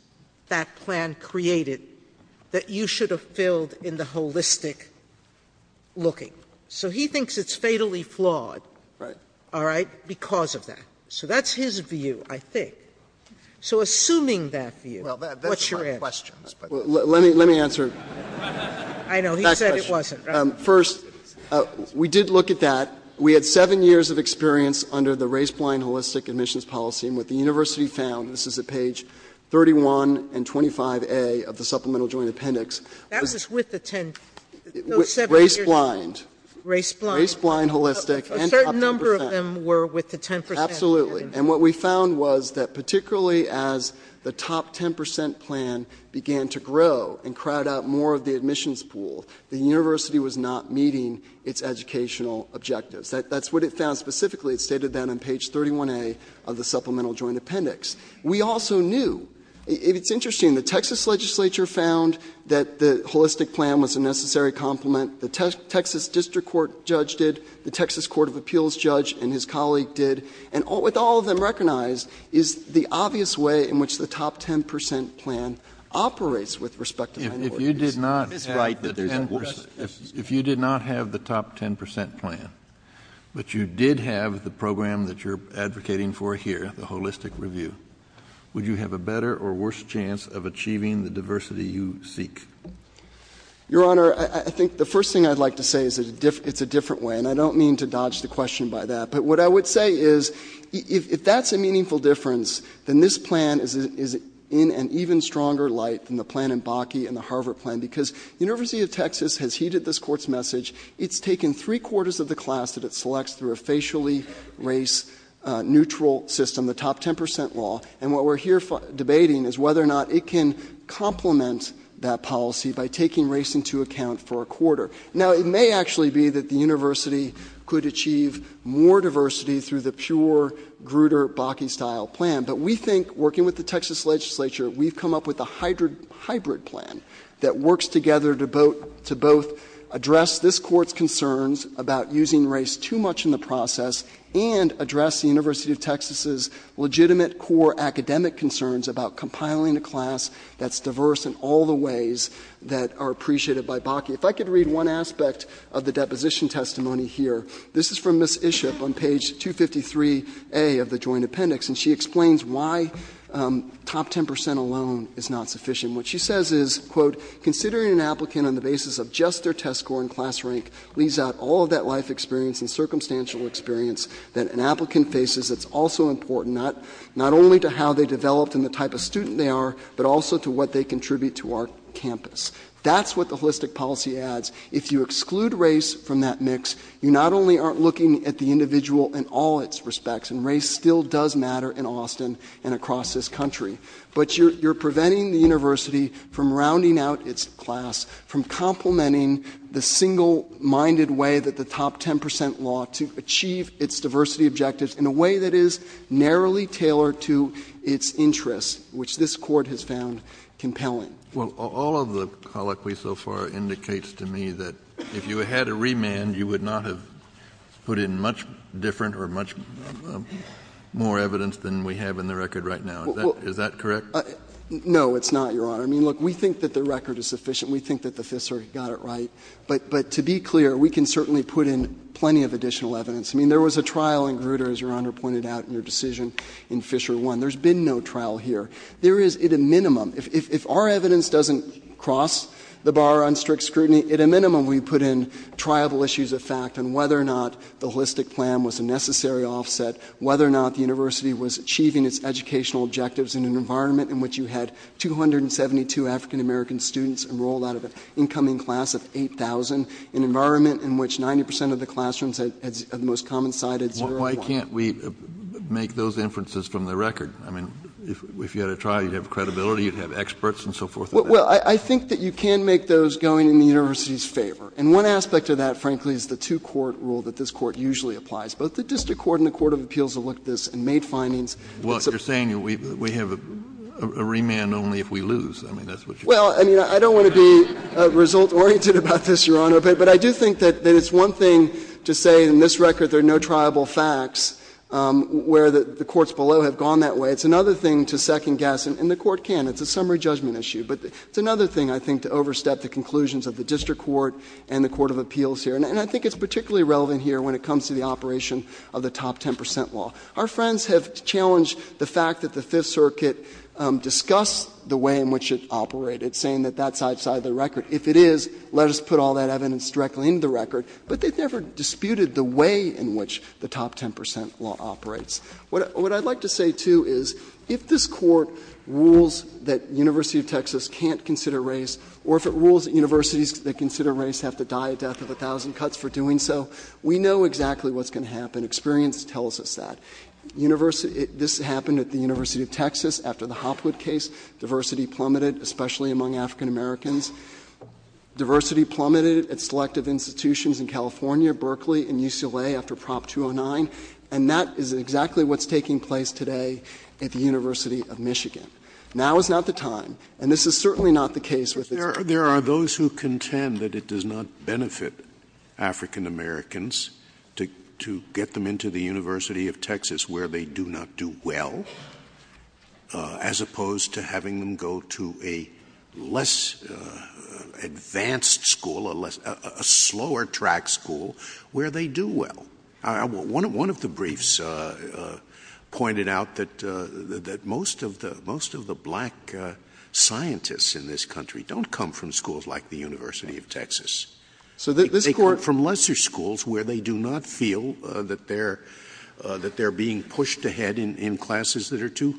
that plan created, that you should have filled in the holistic looking. So he thinks it's fatally flawed because of that. So that's his view, I think. So assuming that view, what's your answer? Let me answer. I know, he said it wasn't. First, we did look at that. We had seven years of experience under the race-blind holistic admissions policy. And what the university found, this is at page 31 and 25A of the supplemental joint appendix. That was with the ten, those seven years. Race-blind. Race-blind. Race-blind holistic. A certain number of them were with the ten percent. Absolutely. And what we found was that particularly as the top ten percent plan began to grow and crowd out more of the admissions pool, the university was not meeting its educational objectives. That's what it found specifically. It stated that on page 31A of the supplemental joint appendix. We also knew, it's interesting, the Texas legislature found that the holistic plan was a necessary complement. The Texas district court judge did. The Texas court of appeals judge and his colleague did. And with all of them recognized, is the obvious way in which the top ten percent plan operates with respect to the university. If you did not have the top ten percent plan, but you did have the program that you're advocating for here, the holistic review, would you have a better or worse chance of achieving the diversity you seek? Your Honor, I think the first thing I'd like to say is it's a different way. And I don't mean to dodge the question by that. But what I would say is if that's a meaningful difference, then this plan is in an even stronger light than the plan in Bakke and the Harvard plan. Because the University of Texas has heeded this court's message. It's taken three quarters of the class that it selects through a facially race neutral system, the top ten percent law. And what we're here debating is whether or not it can complement that policy by taking race into account for a quarter. Now, it may actually be that the university could achieve more diversity through the pure Grutter Bakke style plan. But we think, working with the Texas legislature, we've come up with a hybrid plan that works together to both address this court's concerns about using race too much in the process and address the University of Texas's legitimate core academic concerns about compiling a class that's diverse in all the ways that are appreciated by Bakke. If I could read one aspect of the deposition testimony here, this is from Ms. Iship on page 253A of the joint appendix. And she explains why top ten percent alone is not sufficient. What she says is, quote, considering an applicant on the basis of just their test score and class rank leaves out all of that life experience and circumstantial experience that an applicant faces that's also important, not only to how they develop and the type of student they are, but also to what they contribute to our campus. That's what the holistic policy adds. If you exclude race from that mix, you not only aren't looking at the individual in all its respects, and race still does matter in Austin and across this country, but you're preventing the university from rounding out its class, from complementing the single-minded way that the top ten percent law to achieve its diversity objectives in a way that is narrowly tailored to its interests, which this court has found compelling. Well, all of the colloquy so far indicates to me that if you had a remand, you would not have put in much different or much more evidence than we have in the record right now. Is that correct? No, it's not, Your Honor. I mean, look, we think that the record is sufficient. We think that the Fifth Circuit got it right. But to be clear, we can certainly put in plenty of additional evidence. I mean, there was a trial in Grutter, as Your Honor pointed out, in your decision in Fisher 1. There's been no trial here. There is, at a minimum, if our evidence doesn't cross the bar on strict scrutiny, at a minimum we put in triable issues of fact and whether or not the holistic plan was a necessary offset, whether or not the university was achieving its educational objectives in an environment in which you had 272 African-American students enrolled out of an incoming class of 8,000, an environment in which 90 percent of the classrooms had the most common side at zero. Why can't we make those inferences from the record? I mean, if you had a trial, you'd have credibility. You'd have experts and so forth. Well, I think that you can make those going in the university's favor. And one aspect of that, frankly, is the two-court rule that this Court usually applies, both the District Court and the Court of Appeals have looked at this and made findings. Well, you're saying we have a remand only if we lose. I mean, that's what you're saying. Well, I mean, I don't want to be result-oriented about this, Your Honor. But I do think that it's one thing to say in this record there are no triable facts where the courts below have gone that way. It's another thing to second-guess. And the Court can. It's a summary judgment issue. But it's another thing, I think, to overstep the conclusions of the District Court and the Court of Appeals here. And I think it's particularly relevant here when it comes to the operation of the top 10 percent law. Our friends have challenged the fact that the Fifth Circuit discussed the way in which it's operated, saying that that's outside the record. If it is, let us put all that evidence directly into the record. But they've never disputed the way in which the top 10 percent law operates. What I'd like to say, too, is if this Court rules that the University of Texas can't consider race, or if it rules that universities that consider race have to die a death of a thousand cuts for doing so, we know exactly what's going to happen. Experience tells us that. This happened at the University of Texas after the Hopwood case. Diversity plummeted, especially among African Americans. Diversity plummeted at selective institutions in California, Berkeley, and UCLA after Prop 209. And that is exactly what's taking place today at the University of Michigan. Now is not the time. And this is certainly not the case. There are those who contend that it does not benefit African Americans to get them into the University of Texas, where they do not do well, as opposed to having them go to a less advanced school, a slower-track school, where they do well. One of the briefs pointed out that most of the black scientists in this country don't come from schools like the University of Texas. They come from lesser schools where they do not feel that they're being pushed ahead in classes that are too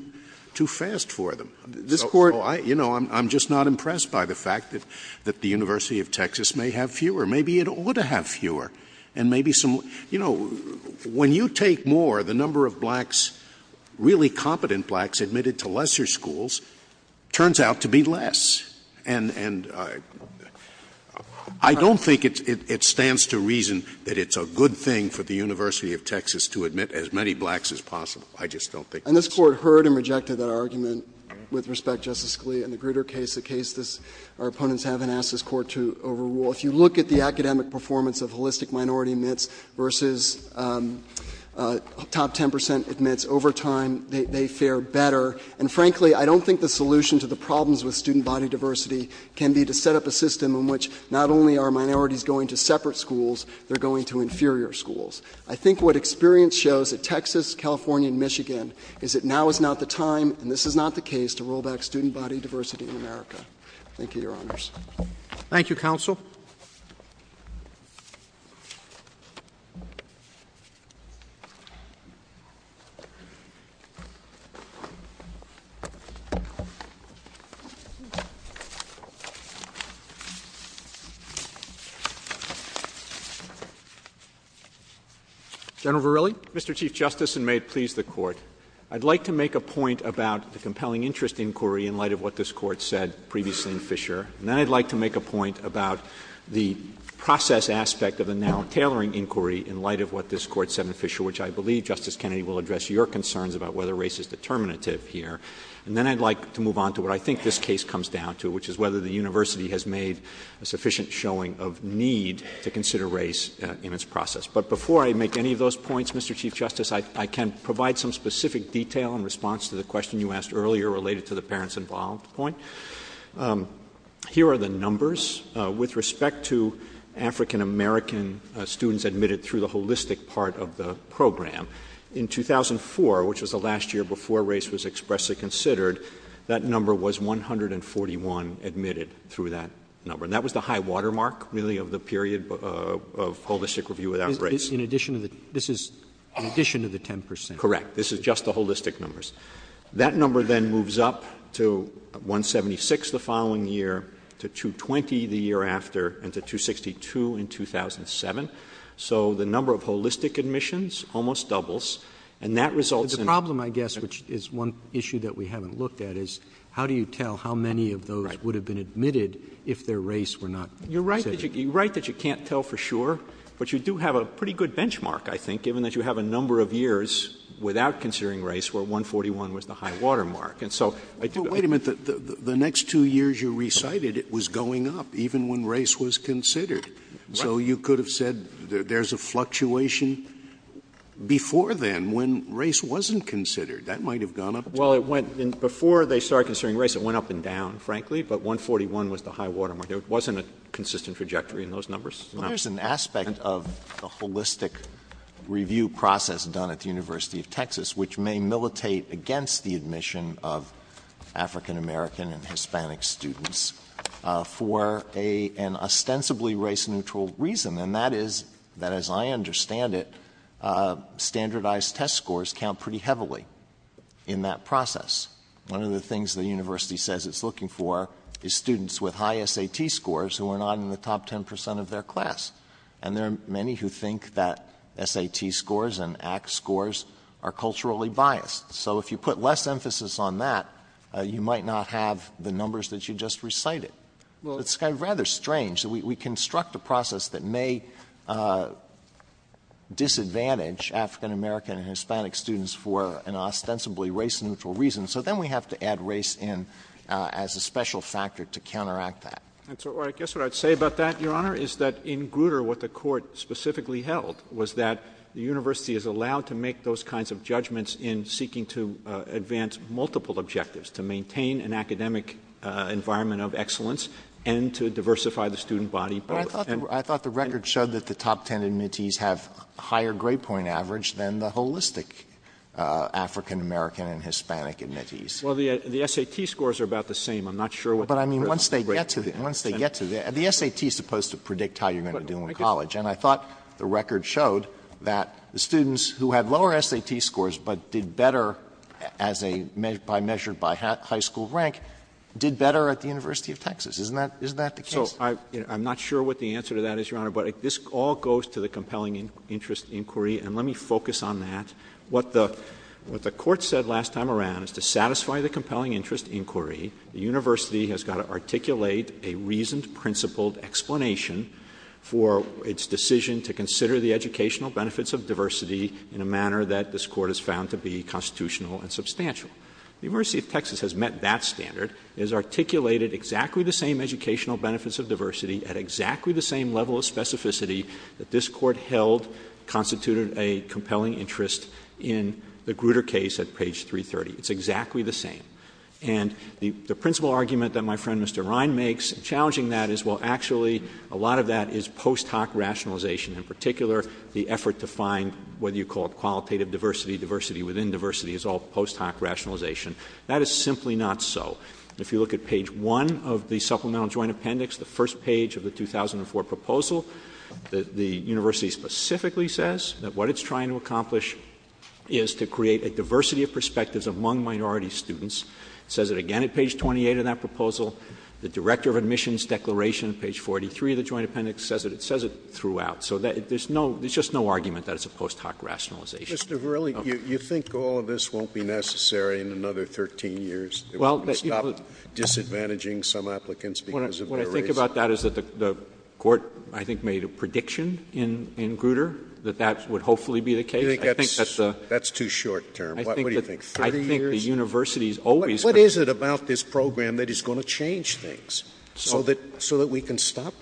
fast for them. I'm just not impressed by the fact that the University of Texas may have fewer. Maybe it ought to have fewer. When you take more, the number of really competent blacks admitted to lesser schools turns out to be less. I don't think it stands to reason that it's a good thing for the University of Texas to admit as many blacks as possible. And this Court heard and rejected that argument with respect to Justice Scalia and the Grutter case, a case our opponents haven't asked this Court to overrule. If you look at the academic performance of holistic minority admits versus top 10% admits over time, they fare better. And frankly, I don't think the solution to the problems with student body diversity can be to set up a system in which not only are minorities going to separate schools, they're going to inferior schools. I think what experience shows that Texas, California, and Michigan is that now is not the time and this is not the case to roll back student body diversity in America. Thank you, Your Honors. Thank you, Counsel. General Verrilli. Mr. Chief Justice, and may it please the Court. I'd like to make a point about the compelling interest inquiry in light of what this Court said previously in Fisher. And then I'd like to make a point about the process aspect of the now tailoring inquiry in light of what this Court said in Fisher, which I believe, Justice Kennedy, will address your concerns about whether race is determinative here. And then I'd like to move on to what I think this case comes down to, which is whether the University has made a sufficient showing of need to consider race in its process. But before I make any of those points, Mr. Chief Justice, I can provide some specific detail in response to the question you asked earlier related to the parents involved point. Here are the numbers with respect to African-American students admitted through the holistic part of the program. In 2004, which was the last year before race was expressly considered, that number was 141 admitted through that number. And that was the high watermark, really, of the period of holistic review without race. This is in addition to the 10 percent. Correct. This is just the holistic numbers. That number then moves up to 176 the following year, to 220 the year after, and to 262 in 2007. So the number of holistic admissions almost doubles. And that results in... The problem, I guess, which is one issue that we haven't looked at, is how do you tell how many of those would have been admitted if their race were not considered? You're right that you can't tell for sure, but you do have a pretty good benchmark, I think, given that you have a number of years without considering race where 141 was the high watermark. Wait a minute. The next two years you recited, it was going up even when race was considered. So you could have said there's a fluctuation before then when race wasn't considered. That might have gone up. Well, before they started considering race, it went up and down, frankly, but 141 was the high watermark. There wasn't a consistent trajectory in those numbers. There's an aspect of the holistic review process done at the University of Texas, which may militate against the admission of African-American and Hispanic students for an ostensibly race-neutral reason, and that is that, as I understand it, standardized test scores count pretty heavily in that process. One of the things the university says it's looking for is students with high SAT scores who are not in the top 10% of their class, and there are many who think that SAT scores and ACT scores are culturally biased. So if you put less emphasis on that, you might not have the numbers that you just recited. It's kind of rather strange. We construct a process that may disadvantage African-American and Hispanic students for an ostensibly race-neutral reason, so then we have to add race in as a special factor to counteract that. I guess what I'd say about that, Your Honor, is that in Grutter, what the court specifically held was that the university is allowed to make those kinds of judgments in seeking to advance multiple objectives, to maintain an academic environment of excellence and to diversify the student body. I thought the record showed that the top 10 admittees have higher grade point average than the holistic African-American and Hispanic admittees. Well, the SAT scores are about the same. I'm not sure what the difference is. But, I mean, once they get to that, the SAT is supposed to predict how you're going to do in college. And I thought the record showed that the students who had lower SAT scores but did better as a measure by high school rank did better at the University of Texas. Isn't that the case? So I'm not sure what the answer to that is, Your Honor, but this all goes to the compelling interest inquiry, and let me focus on that. What the court said last time around is to satisfy the compelling interest inquiry, the university has got to articulate a reasoned, principled explanation for its decision to consider the educational benefits of diversity in a manner that this court has found to be constitutional and substantial. The University of Texas has met that standard. It has articulated exactly the same educational benefits of diversity at exactly the same level of specificity that this court held constituted a compelling interest in the Grutter case at page 330. It's exactly the same. And the principle argument that my friend, Mr. Ryan, makes challenging that is, well, actually, a lot of that is post hoc rationalization. In particular, the effort to find what you call qualitative diversity, diversity within diversity is all post hoc rationalization. That is simply not so. If you look at page one of the supplemental joint appendix, the first page of the is to create a diversity of perspectives among minority students. It says it again at page 28 of that proposal. The director of admissions declaration at page 43 of the joint appendix says it. It says it throughout. So there's no — there's just no argument that it's a post hoc rationalization. JUSTICE SCALIA. Mr. Verrilli, you think all of this won't be necessary in another 13 years if we stop disadvantaging some applicants because of their race? MR. VERRILLI. What I think about that is that the court, I think, made a prediction in Grutter that that would hopefully be the case. JUSTICE SCALIA. That's too short-term. What do you think, 30 years? MR. I think the universities always — JUSTICE SCALIA. What is it about this program that is going to change things so that we can stop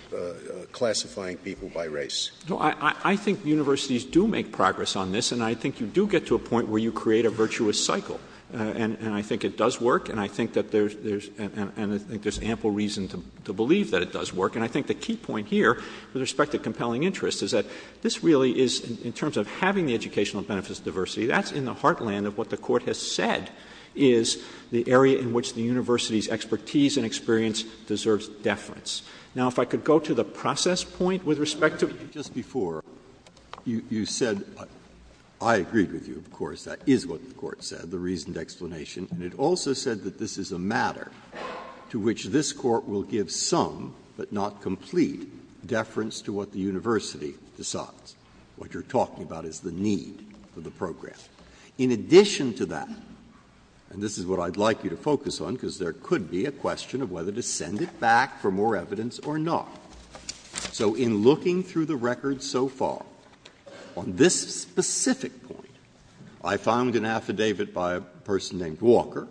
classifying people by race? MR. VERRILLI. I think universities do make progress on this, and I think you do get to a point where you create a virtuous cycle. And I think it does work, and I think that there's ample reason to believe that it does work. And I think the key point here, with respect to compelling interest, is that this really is, in terms of having the educational benefits of diversity, that's in the heartland of what the Court has said is the area in which the university's expertise and experience deserves deference. Now, if I could go to the process point with respect to — JUSTICE BREYER. Just before, you said — I agree with you, of course, that is what the Court said, the reasoned explanation. And it also said that this is a matter to which this Court will give some, but not complete, deference to what the university decides. What you're talking about is the need for the program. In addition to that — and this is what I'd like you to focus on, because there could be a question of whether to send it back for more evidence or not. So in looking through the records so far, on this specific point, I found an affidavit by a person named Walker,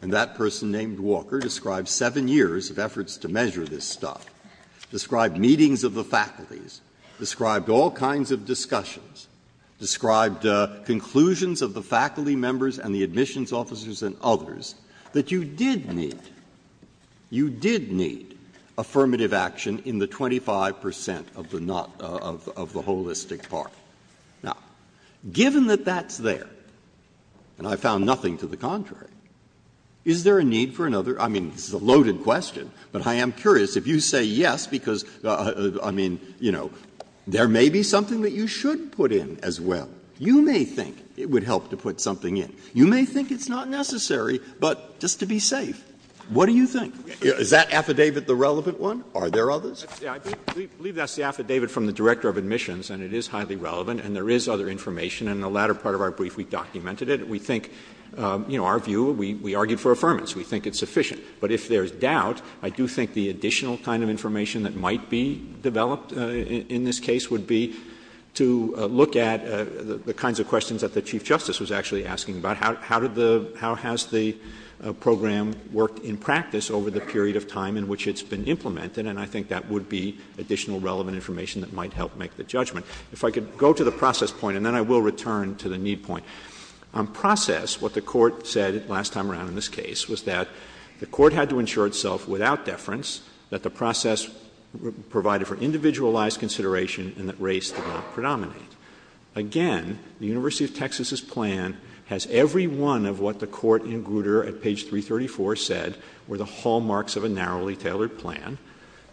and that person named Walker described seven years of efforts to measure this stuff, described meetings of the faculties, described all kinds of discussions, described conclusions of the faculty members and the admissions officers and others that you did need. You did need affirmative action in the 25 percent of the holistic part. Now, given that that's there, and I found nothing to the contrary, is there a need for another — I mean, this is a loaded question, but I am curious. If you say yes, because, I mean, you know, there may be something that you should put in as well. You may think it would help to put something in. You may think it's not necessary, but just to be safe. What do you think? Is that affidavit the relevant one? Are there others? I believe that's the affidavit from the Director of Admissions, and it is highly relevant, and there is other information. And in the latter part of our brief, we documented it. We think — you know, our view, we argue for affirmance. We think it's sufficient. But if there's doubt, I do think the additional kind of information that might be developed in this case would be to look at the kinds of questions that the Chief Justice was actually asking about. How has the program worked in practice over the period of time in which it's been implemented? And I think that would be additional relevant information that might help make the judgment. If I could go to the process point, and then I will return to the need point. On process, what the Court said last time around in this case was that the Court had to ensure itself without deference that the process provided for individualized consideration and that race did not predominate. Again, the University of Texas's plan has every one of what the Court in Grutter at page 334 said were the hallmarks of a narrowly tailored plan.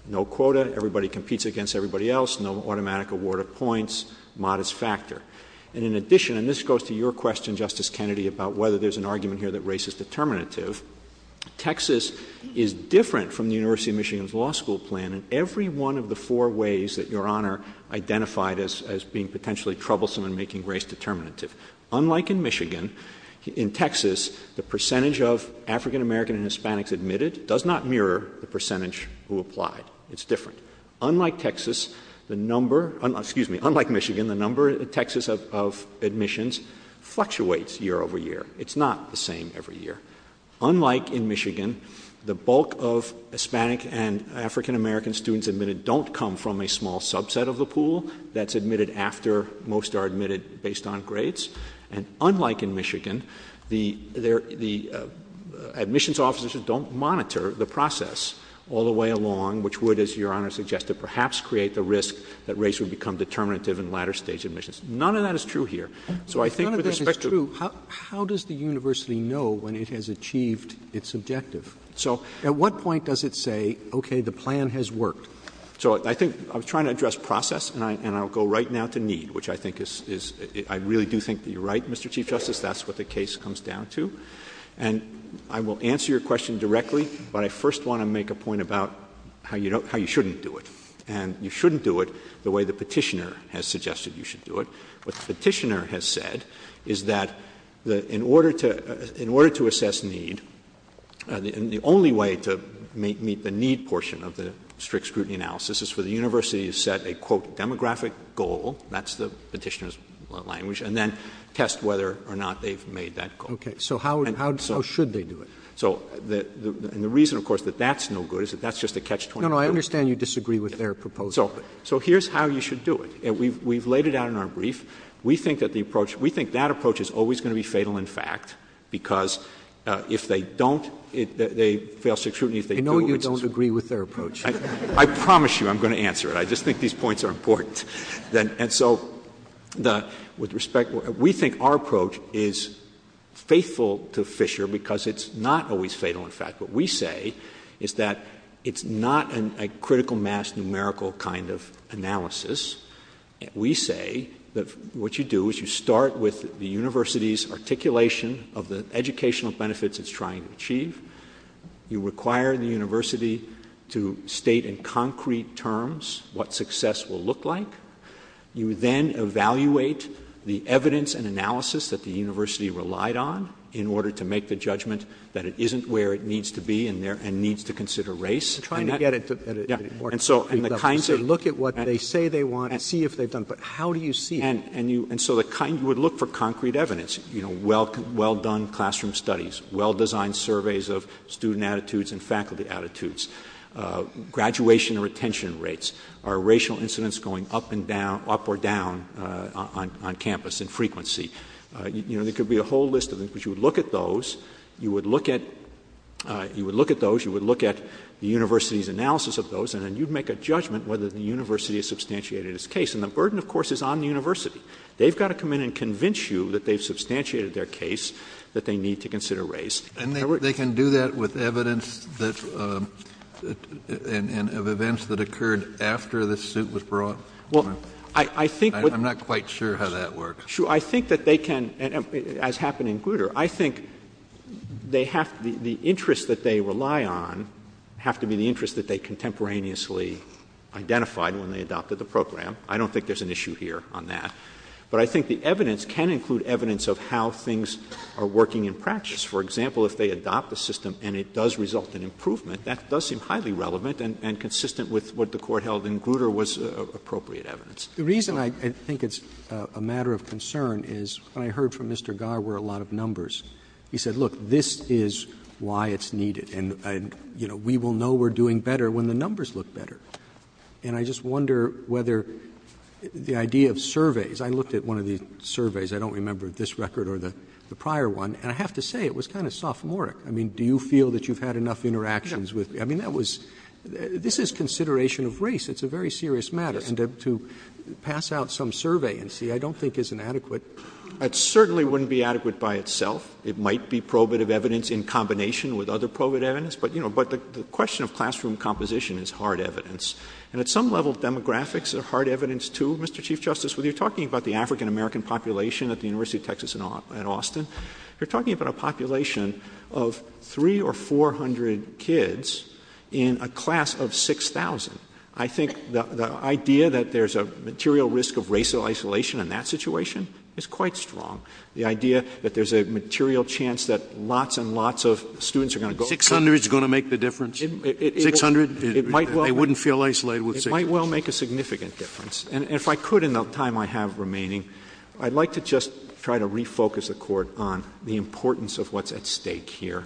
No quota, everybody competes against everybody else, no automatic award of points, modest factor. And in addition — and this goes to your question, Justice Kennedy, about whether there's an argument here that race is determinative — Texas is different from the University of Michigan's law school plan in every one of the four ways that Your Honor identified as being potentially troublesome in making race determinative. Unlike in Michigan, in Texas, the percentage of African American and Hispanics admitted does not mirror the percentage who applied. It's different. Unlike Texas, the number — excuse me, unlike Michigan, the number in Texas of admissions fluctuates year over year. It's not the same every year. Unlike in Michigan, the bulk of Hispanic and African American students admitted don't come from a small subset of the pool that's admitted after most are admitted based on race. And unlike in Michigan, the admissions officers don't monitor the process all the way along, which would, as Your Honor suggested, perhaps create the risk that race would become determinative in latter stage admissions. None of that is true here. So I think — None of this is true. How does the university know when it has achieved its objective? So at what point does it say, okay, the plan has worked? So I think — I'm trying to address process, and I'll go right now to need, which I think is — I really do think that you're right, Mr. Chief Justice. That's what the case comes down to. And I will answer your question directly, but I first want to make a point about how you shouldn't do it. And you shouldn't do it the way the petitioner has suggested you should do it. What the petitioner has said is that in order to assess need, the only way to meet the need portion of the strict scrutiny analysis is for the university to set a, quote, demographic goal. That's the petitioner's language. And then test whether or not they've made that goal. Okay. So how should they do it? And the reason, of course, that that's no good is that that's just a catch-22. No, no. I understand you disagree with their proposal. So here's how you should do it. And we've laid it out in our brief. We think that the approach — we think that approach is always going to be fatal in fact because if they don't — if they fail strict scrutiny — I know you don't agree with their approach. I promise you I'm going to answer it. I just think these points are important. And so with respect, we think our approach is faithful to Fisher because it's not always fatal in fact. What we say is that it's not a critical mass numerical kind of analysis. We say that what you do is you start with the university's articulation of the educational benefits it's trying to achieve. You require the university to state in concrete terms what success will look like. You then evaluate the evidence and analysis that the university relied on in order to make the judgment that it isn't where it needs to be and needs to consider race. We're trying to get it to work. So look at what they say they want and see if they don't. But how do you see it? And so you would look for concrete evidence — well-done classroom studies, well-designed surveys of student attitudes and faculty attitudes, graduation and retention rates. Are racial incidents going up or down on campus in frequency? There could be a whole list of them. But you would look at those. You would look at the university's analysis of those. And then you'd make a judgment whether the university has substantiated its case. And the burden, of course, is on the university. They've got to come in and convince you that they've substantiated their case, that they need to consider race. And they can do that with evidence that — of events that occurred after the suit was brought? Well, I think — I'm not quite sure how that works. Sure. I think that they can — as happened in Grutter, I think they have — the interests that they rely on have to be the interests that they contemporaneously identified when they adopted the program. I don't think there's an issue here on that. But I think the evidence can include evidence of how things are working in practice. For example, if they adopt a system and it does result in improvement, that does seem highly relevant and consistent with what the court held in Grutter was appropriate evidence. The reason I think it's a matter of concern is I heard from Mr. Gar where a lot of numbers. He said, look, this is why it's needed. And, you know, we will know we're doing better when the numbers look better. And I just wonder whether the idea of surveys — I looked at one of the surveys. I don't remember this record or the prior one. And I have to say, it was kind of sophomoric. I mean, do you feel that you've had enough interactions with — I mean, that was — this is consideration of race. It's a very serious matter. And to pass out some survey and see, I don't think is an adequate — It certainly wouldn't be adequate by itself. It might be probative evidence in combination with other probative evidence. But, you know, the question of classroom composition is hard evidence. And at some level, demographics are hard evidence too. Mr. Chief Justice, when you're talking about the African-American population at the University of Texas at Austin, you're talking about a population of 300 or 400 kids in a class of 6,000. I think the idea that there's a material risk of racial isolation in that situation is quite strong. The idea that there's a material chance that lots and lots of students are going to — 600 is going to make the difference? 600? I wouldn't feel isolated with 600. It might well make a significant difference. And if I could, in the time I have remaining, I'd like to just try to refocus the Court on the importance of what's at stake here.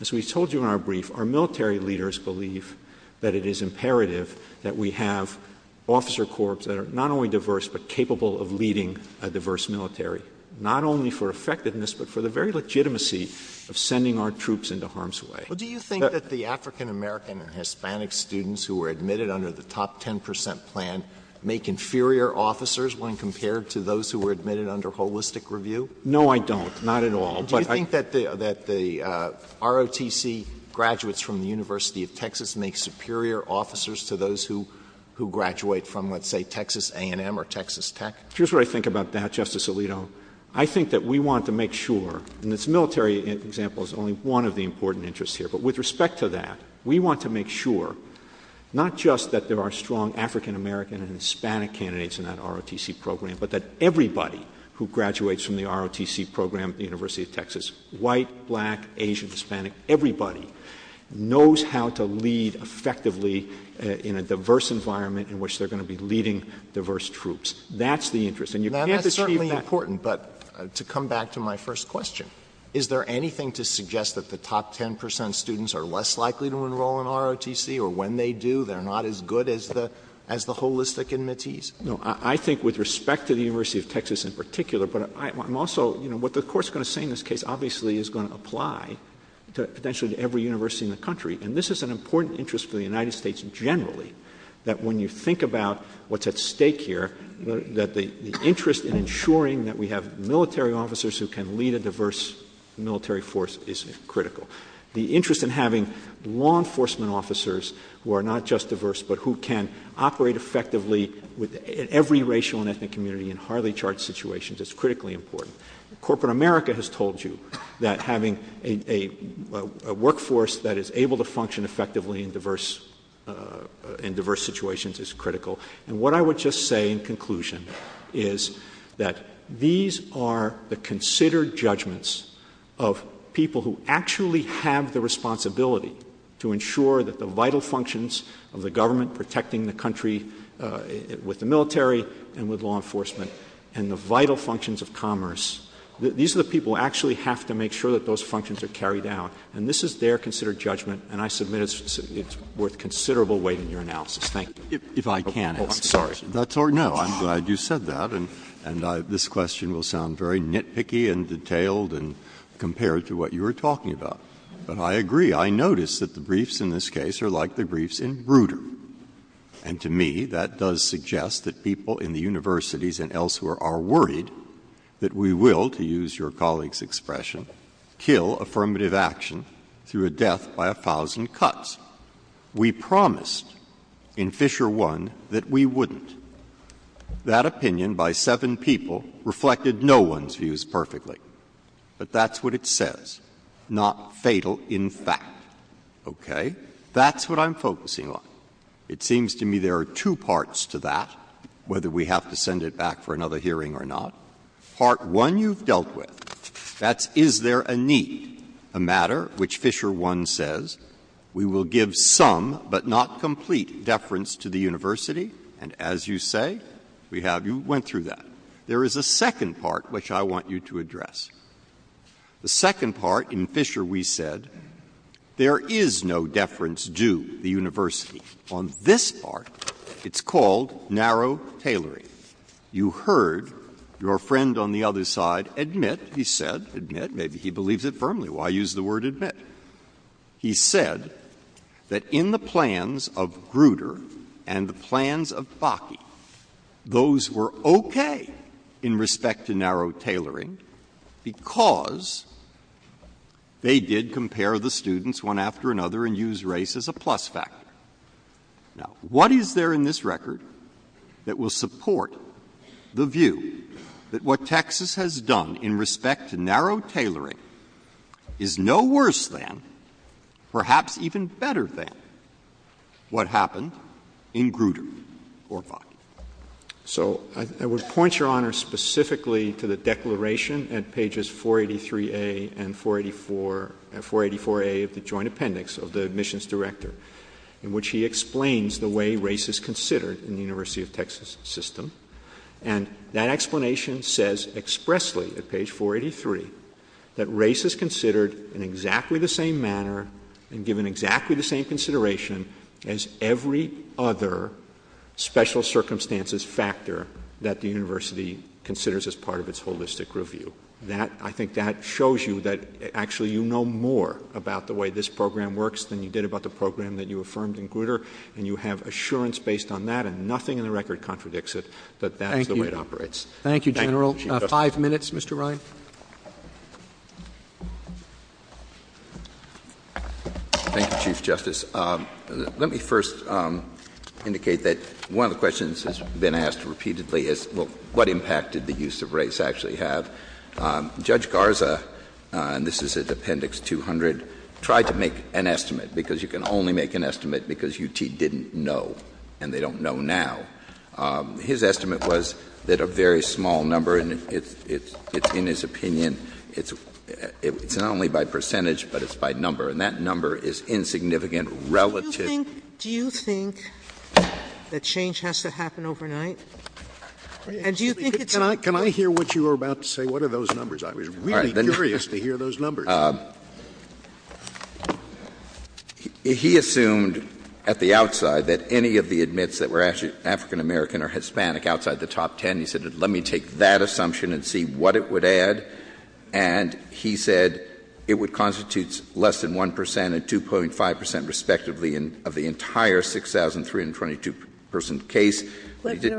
As we told you in our brief, our military leaders believe that it is imperative that we have officer corps that are not only diverse but capable of leading a diverse military, not only for effectiveness but for the very legitimacy of sending our troops into harm's way. Well, do you think that the African-American and Hispanic students who were admitted under the top 10 percent plan make inferior officers when compared to those who were admitted under holistic review? No, I don't. Not at all. Do you think that the ROTC graduates from the University of Texas make superior officers to those who graduate from, let's say, Texas A&M or Texas Tech? Here's what I think about that, Justice Alito. I think that we want to make sure, and this military example is only one of the important interests here, but with respect to that, we want to make sure not just that there are strong African-American and Hispanic candidates in that ROTC program but that everybody who graduates from the ROTC program at the University of Texas, white, black, Asian, Hispanic, everybody, knows how to lead effectively in a diverse environment in which they're going to be leading diverse troops. That's the interest. Now, that's certainly important, but to come back to my first question, is there anything to suggest that the top 10 percent students are less likely to enroll in ROTC, or when they do, they're not as good as the holistic admittees? No. I think with respect to the University of Texas in particular, but I'm also, you know, what the Court's going to say in this case obviously is going to apply to potentially every university in the country, and this is an important interest for the United States generally, that when you think about what's at stake here, that the interest in ensuring that we have military officers who can lead a diverse military force is critical. The interest in having law enforcement officers who are not just diverse but who can operate effectively with every racial and ethnic community in highly charged situations is critically important. Corporate America has told you that having a workforce that is able to function effectively in diverse situations is critical, and what I would just say in conclusion is that these are the considered judgments of people who actually have the responsibility to ensure that the vital functions of the government protecting the country with the military and with law enforcement, and the vital functions of commerce, these are the people who actually have to make sure that those functions are carried out, and this is their considered judgment, and I submit it's worth considerable weight in your analysis. Thank you. If I can, I'm sorry. That's all right. No, I'm glad you said that, and this question will sound very nitpicky and detailed and compared to what you were talking about, but I agree. I notice that the briefs in this case are like the briefs in Bruder, and to me that by a thousand cuts. We promised in Fisher I that we wouldn't. That opinion by seven people reflected no one's views perfectly, but that's what it says, not fatal in fact. Okay? That's what I'm focusing on. It seems to me there are two parts to that, whether we have to send it back for another hearing or not. Part one you've dealt with, that's is there a need, a matter which Fisher I says we will give some but not complete deference to the university, and as you say, we have you went through that. There is a second part which I want you to address. The second part in Fisher we said there is no deference due to the university. On this part, it's called narrow tailoring. You heard your friend on the other side admit, he said, admit, maybe he believes it firmly. Why use the word admit? He said that in the plans of Bruder and the plans of Faki, those were okay in respect to narrow tailoring because they did compare the students one after another and used race as a plus factor. Now, what is there in this record that will support the view that what Texas has done in respect to narrow tailoring is no worse than, perhaps even better than, what happened in Bruder or Faki? So I would point Your Honor specifically to the declaration in pages 483a and 484a of the joint appendix of the admissions director in which he explains the way race is considered in the University of Texas system, and that explanation says expressly at page 483 that race is considered in exactly the same manner and given exactly the same consideration as every other special circumstances factor that the university considers as part of its holistic review. So that, I think that shows you that actually you know more about the way this program works than you did about the program that you affirmed in Bruder, and you have assurance based on that, and nothing in the record contradicts it that that's the way it operates. Thank you. Thank you, General. Five minutes, Mr. Ryan. Thank you, Chief Justice. Let me first indicate that one of the questions that's been asked repeatedly is, well, what impact did the use of race actually have? Judge Garza, and this is at Appendix 200, tried to make an estimate, because you can only make an estimate because UT didn't know, and they don't know now. His estimate was that a very small number, and it's in his opinion, it's not only by percentage, but it's by number, and that number is insignificant relative. Do you think that change has to happen overnight? Can I hear what you were about to say? What are those numbers? I'm really curious to hear those numbers. He assumed at the outside that any of the admits that were actually African American or Hispanic outside the top ten, he said, let me take that assumption and see what it would add. And he said it would constitute less than 1 percent and 2.5 percent respectively of the entire 6,322-person case. Can you tell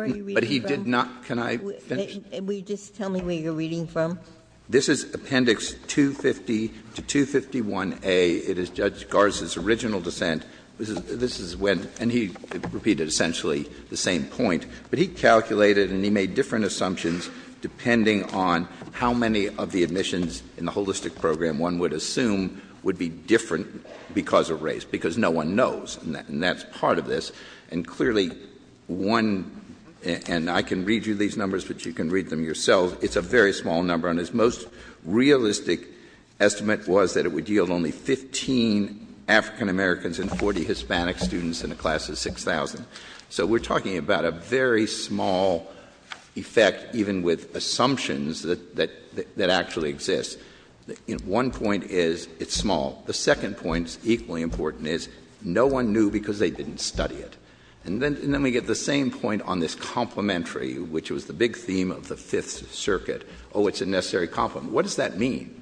me where you're reading from? This is Appendix 250 to 251A. It is Judge Garza's original dissent, and he repeated essentially the same point. But he calculated and he made different assumptions depending on how many of the admissions in the holistic program one would assume would be different because of race, because no one knows, and that's part of this. And clearly one, and I can read you these numbers, but you can read them yourself, it's a very small number. And his most realistic estimate was that it would yield only 15 African Americans and 40 Hispanic students in a class of 6,000. So we're talking about a very small effect even with assumptions that actually exist. One point is it's small. The second point, equally important, is no one knew because they didn't study it. And then we get the same point on this complementary, which was the big theme of the Fifth Circuit. Oh, it's a necessary complement. What does that mean?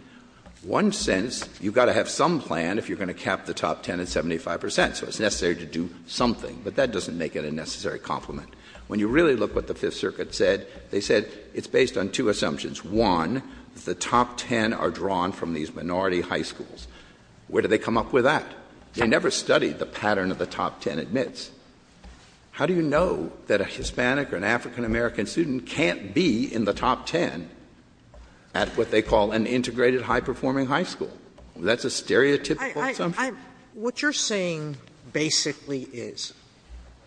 One sense, you've got to have some plan if you're going to cap the top 10 at 75 percent, so it's necessary to do something. But that doesn't make it a necessary complement. When you really look at what the Fifth Circuit said, they said it's based on two assumptions. One, the top 10 are drawn from these minority high schools. Where do they come up with that? They never studied the pattern of the top 10 admits. How do you know that a Hispanic or an African American student can't be in the top 10 at what they call an integrated high-performing high school? That's a stereotypical assumption. Sotomayor What you're saying basically is,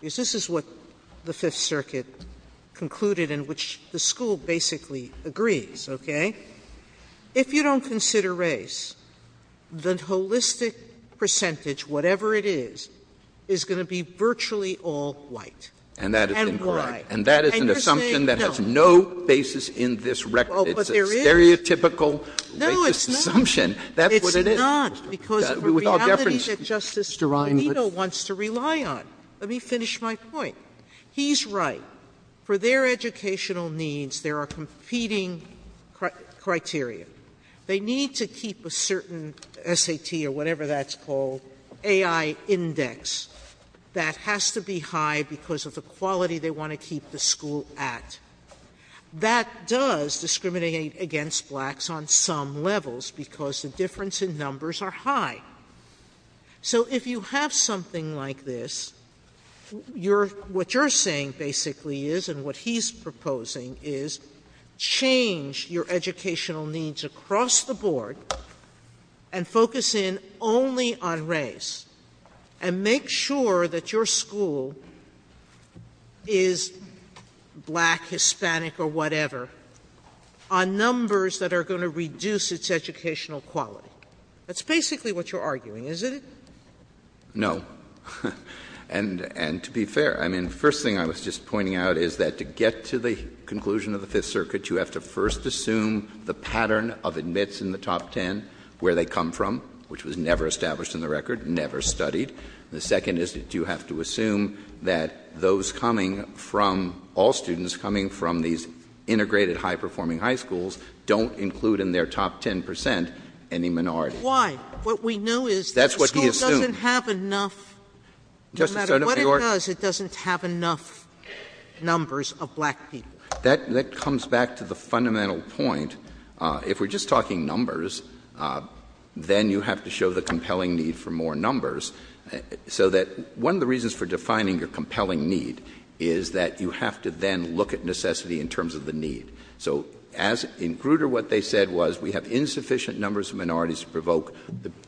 is this is what the Fifth Circuit concluded, in which the school basically agrees, okay? If you don't consider race, the holistic percentage, whatever it is, is going to be virtually all white. And why? And you're saying no. And that is an assumption that has no basis in this record. It's a stereotypical racist assumption. No, it's not. That's what it is. It's not, because the reality that Justice Scalia wants to rely on. Let me finish my point. He's right. For their educational needs, there are competing criteria. They need to keep a certain SAT or whatever that's called, AI index, that has to be high because of the quality they want to keep the school at. That does discriminate against blacks on some levels because the difference in numbers are high. So if you have something like this, what you're saying basically is, and what he's proposing is, change your educational needs across the board and focus in only on race. And make sure that your school is black, Hispanic, or whatever, on numbers that are going to reduce its educational quality. That's basically what you're arguing, isn't it? No. And to be fair, I mean, the first thing I was just pointing out is that to get to the conclusion of the Fifth Circuit, you have to first assume the pattern of admits in the top ten, where they come from, which was never established in the record, never studied. And the second is that you have to assume that those coming from, all students coming from these integrated high-performing high schools don't include in their top ten percent any minority. Why? What we know is the school doesn't have enough. No matter what it does, it doesn't have enough numbers of black people. That comes back to the fundamental point. If we're just talking numbers, then you have to show the compelling need for more numbers. So that one of the reasons for defining your compelling need is that you have to then look at necessity in terms of the need. So in Grutter, what they said was, we have insufficient numbers of minorities to provoke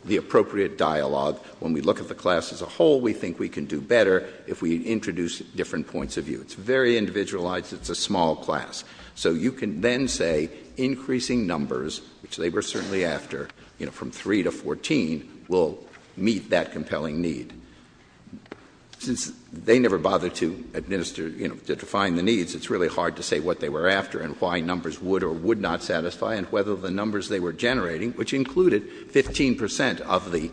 the appropriate dialogue. When we look at the class as a whole, we think we can do better if we introduce different points of view. It's very individualized. It's a small class. So you can then say, increasing numbers, which they were certainly after, from three to 14, will meet that compelling need. Since they never bothered to define the needs, it's really hard to say what they were after and why numbers would or would not satisfy and whether the numbers they were generating, which included 15 percent of the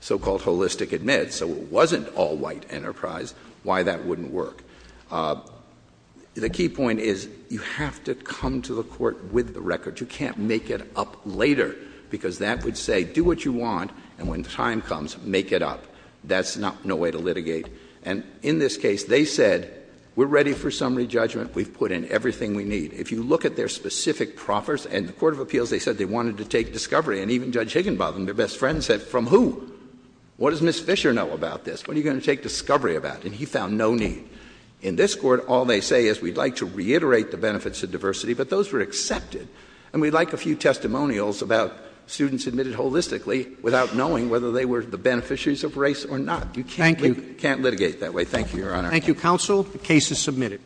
so-called holistic admit, so it wasn't all white enterprise, why that wouldn't work. The key point is, you have to come to the court with the record. You can't make it up later, because that would say, do what you want, and when time comes, make it up. That's no way to litigate. And in this case, they said, we're ready for summary judgment. We've put in everything we need. If you look at their specific proffers, and the court of appeals, they said they wanted to take discovery, and even Judge Higginbotham, their best friend, said, from who? What does Ms. Fisher know about this? What are you going to take discovery about? And he found no need. In this court, all they say is, we'd like to reiterate the benefits of diversity, but those were accepted. And we'd like a few testimonials about students admitted holistically without knowing whether they were the beneficiaries of race or not. You can't litigate that way. Thank you, Your Honor. Thank you, counsel. The case is submitted.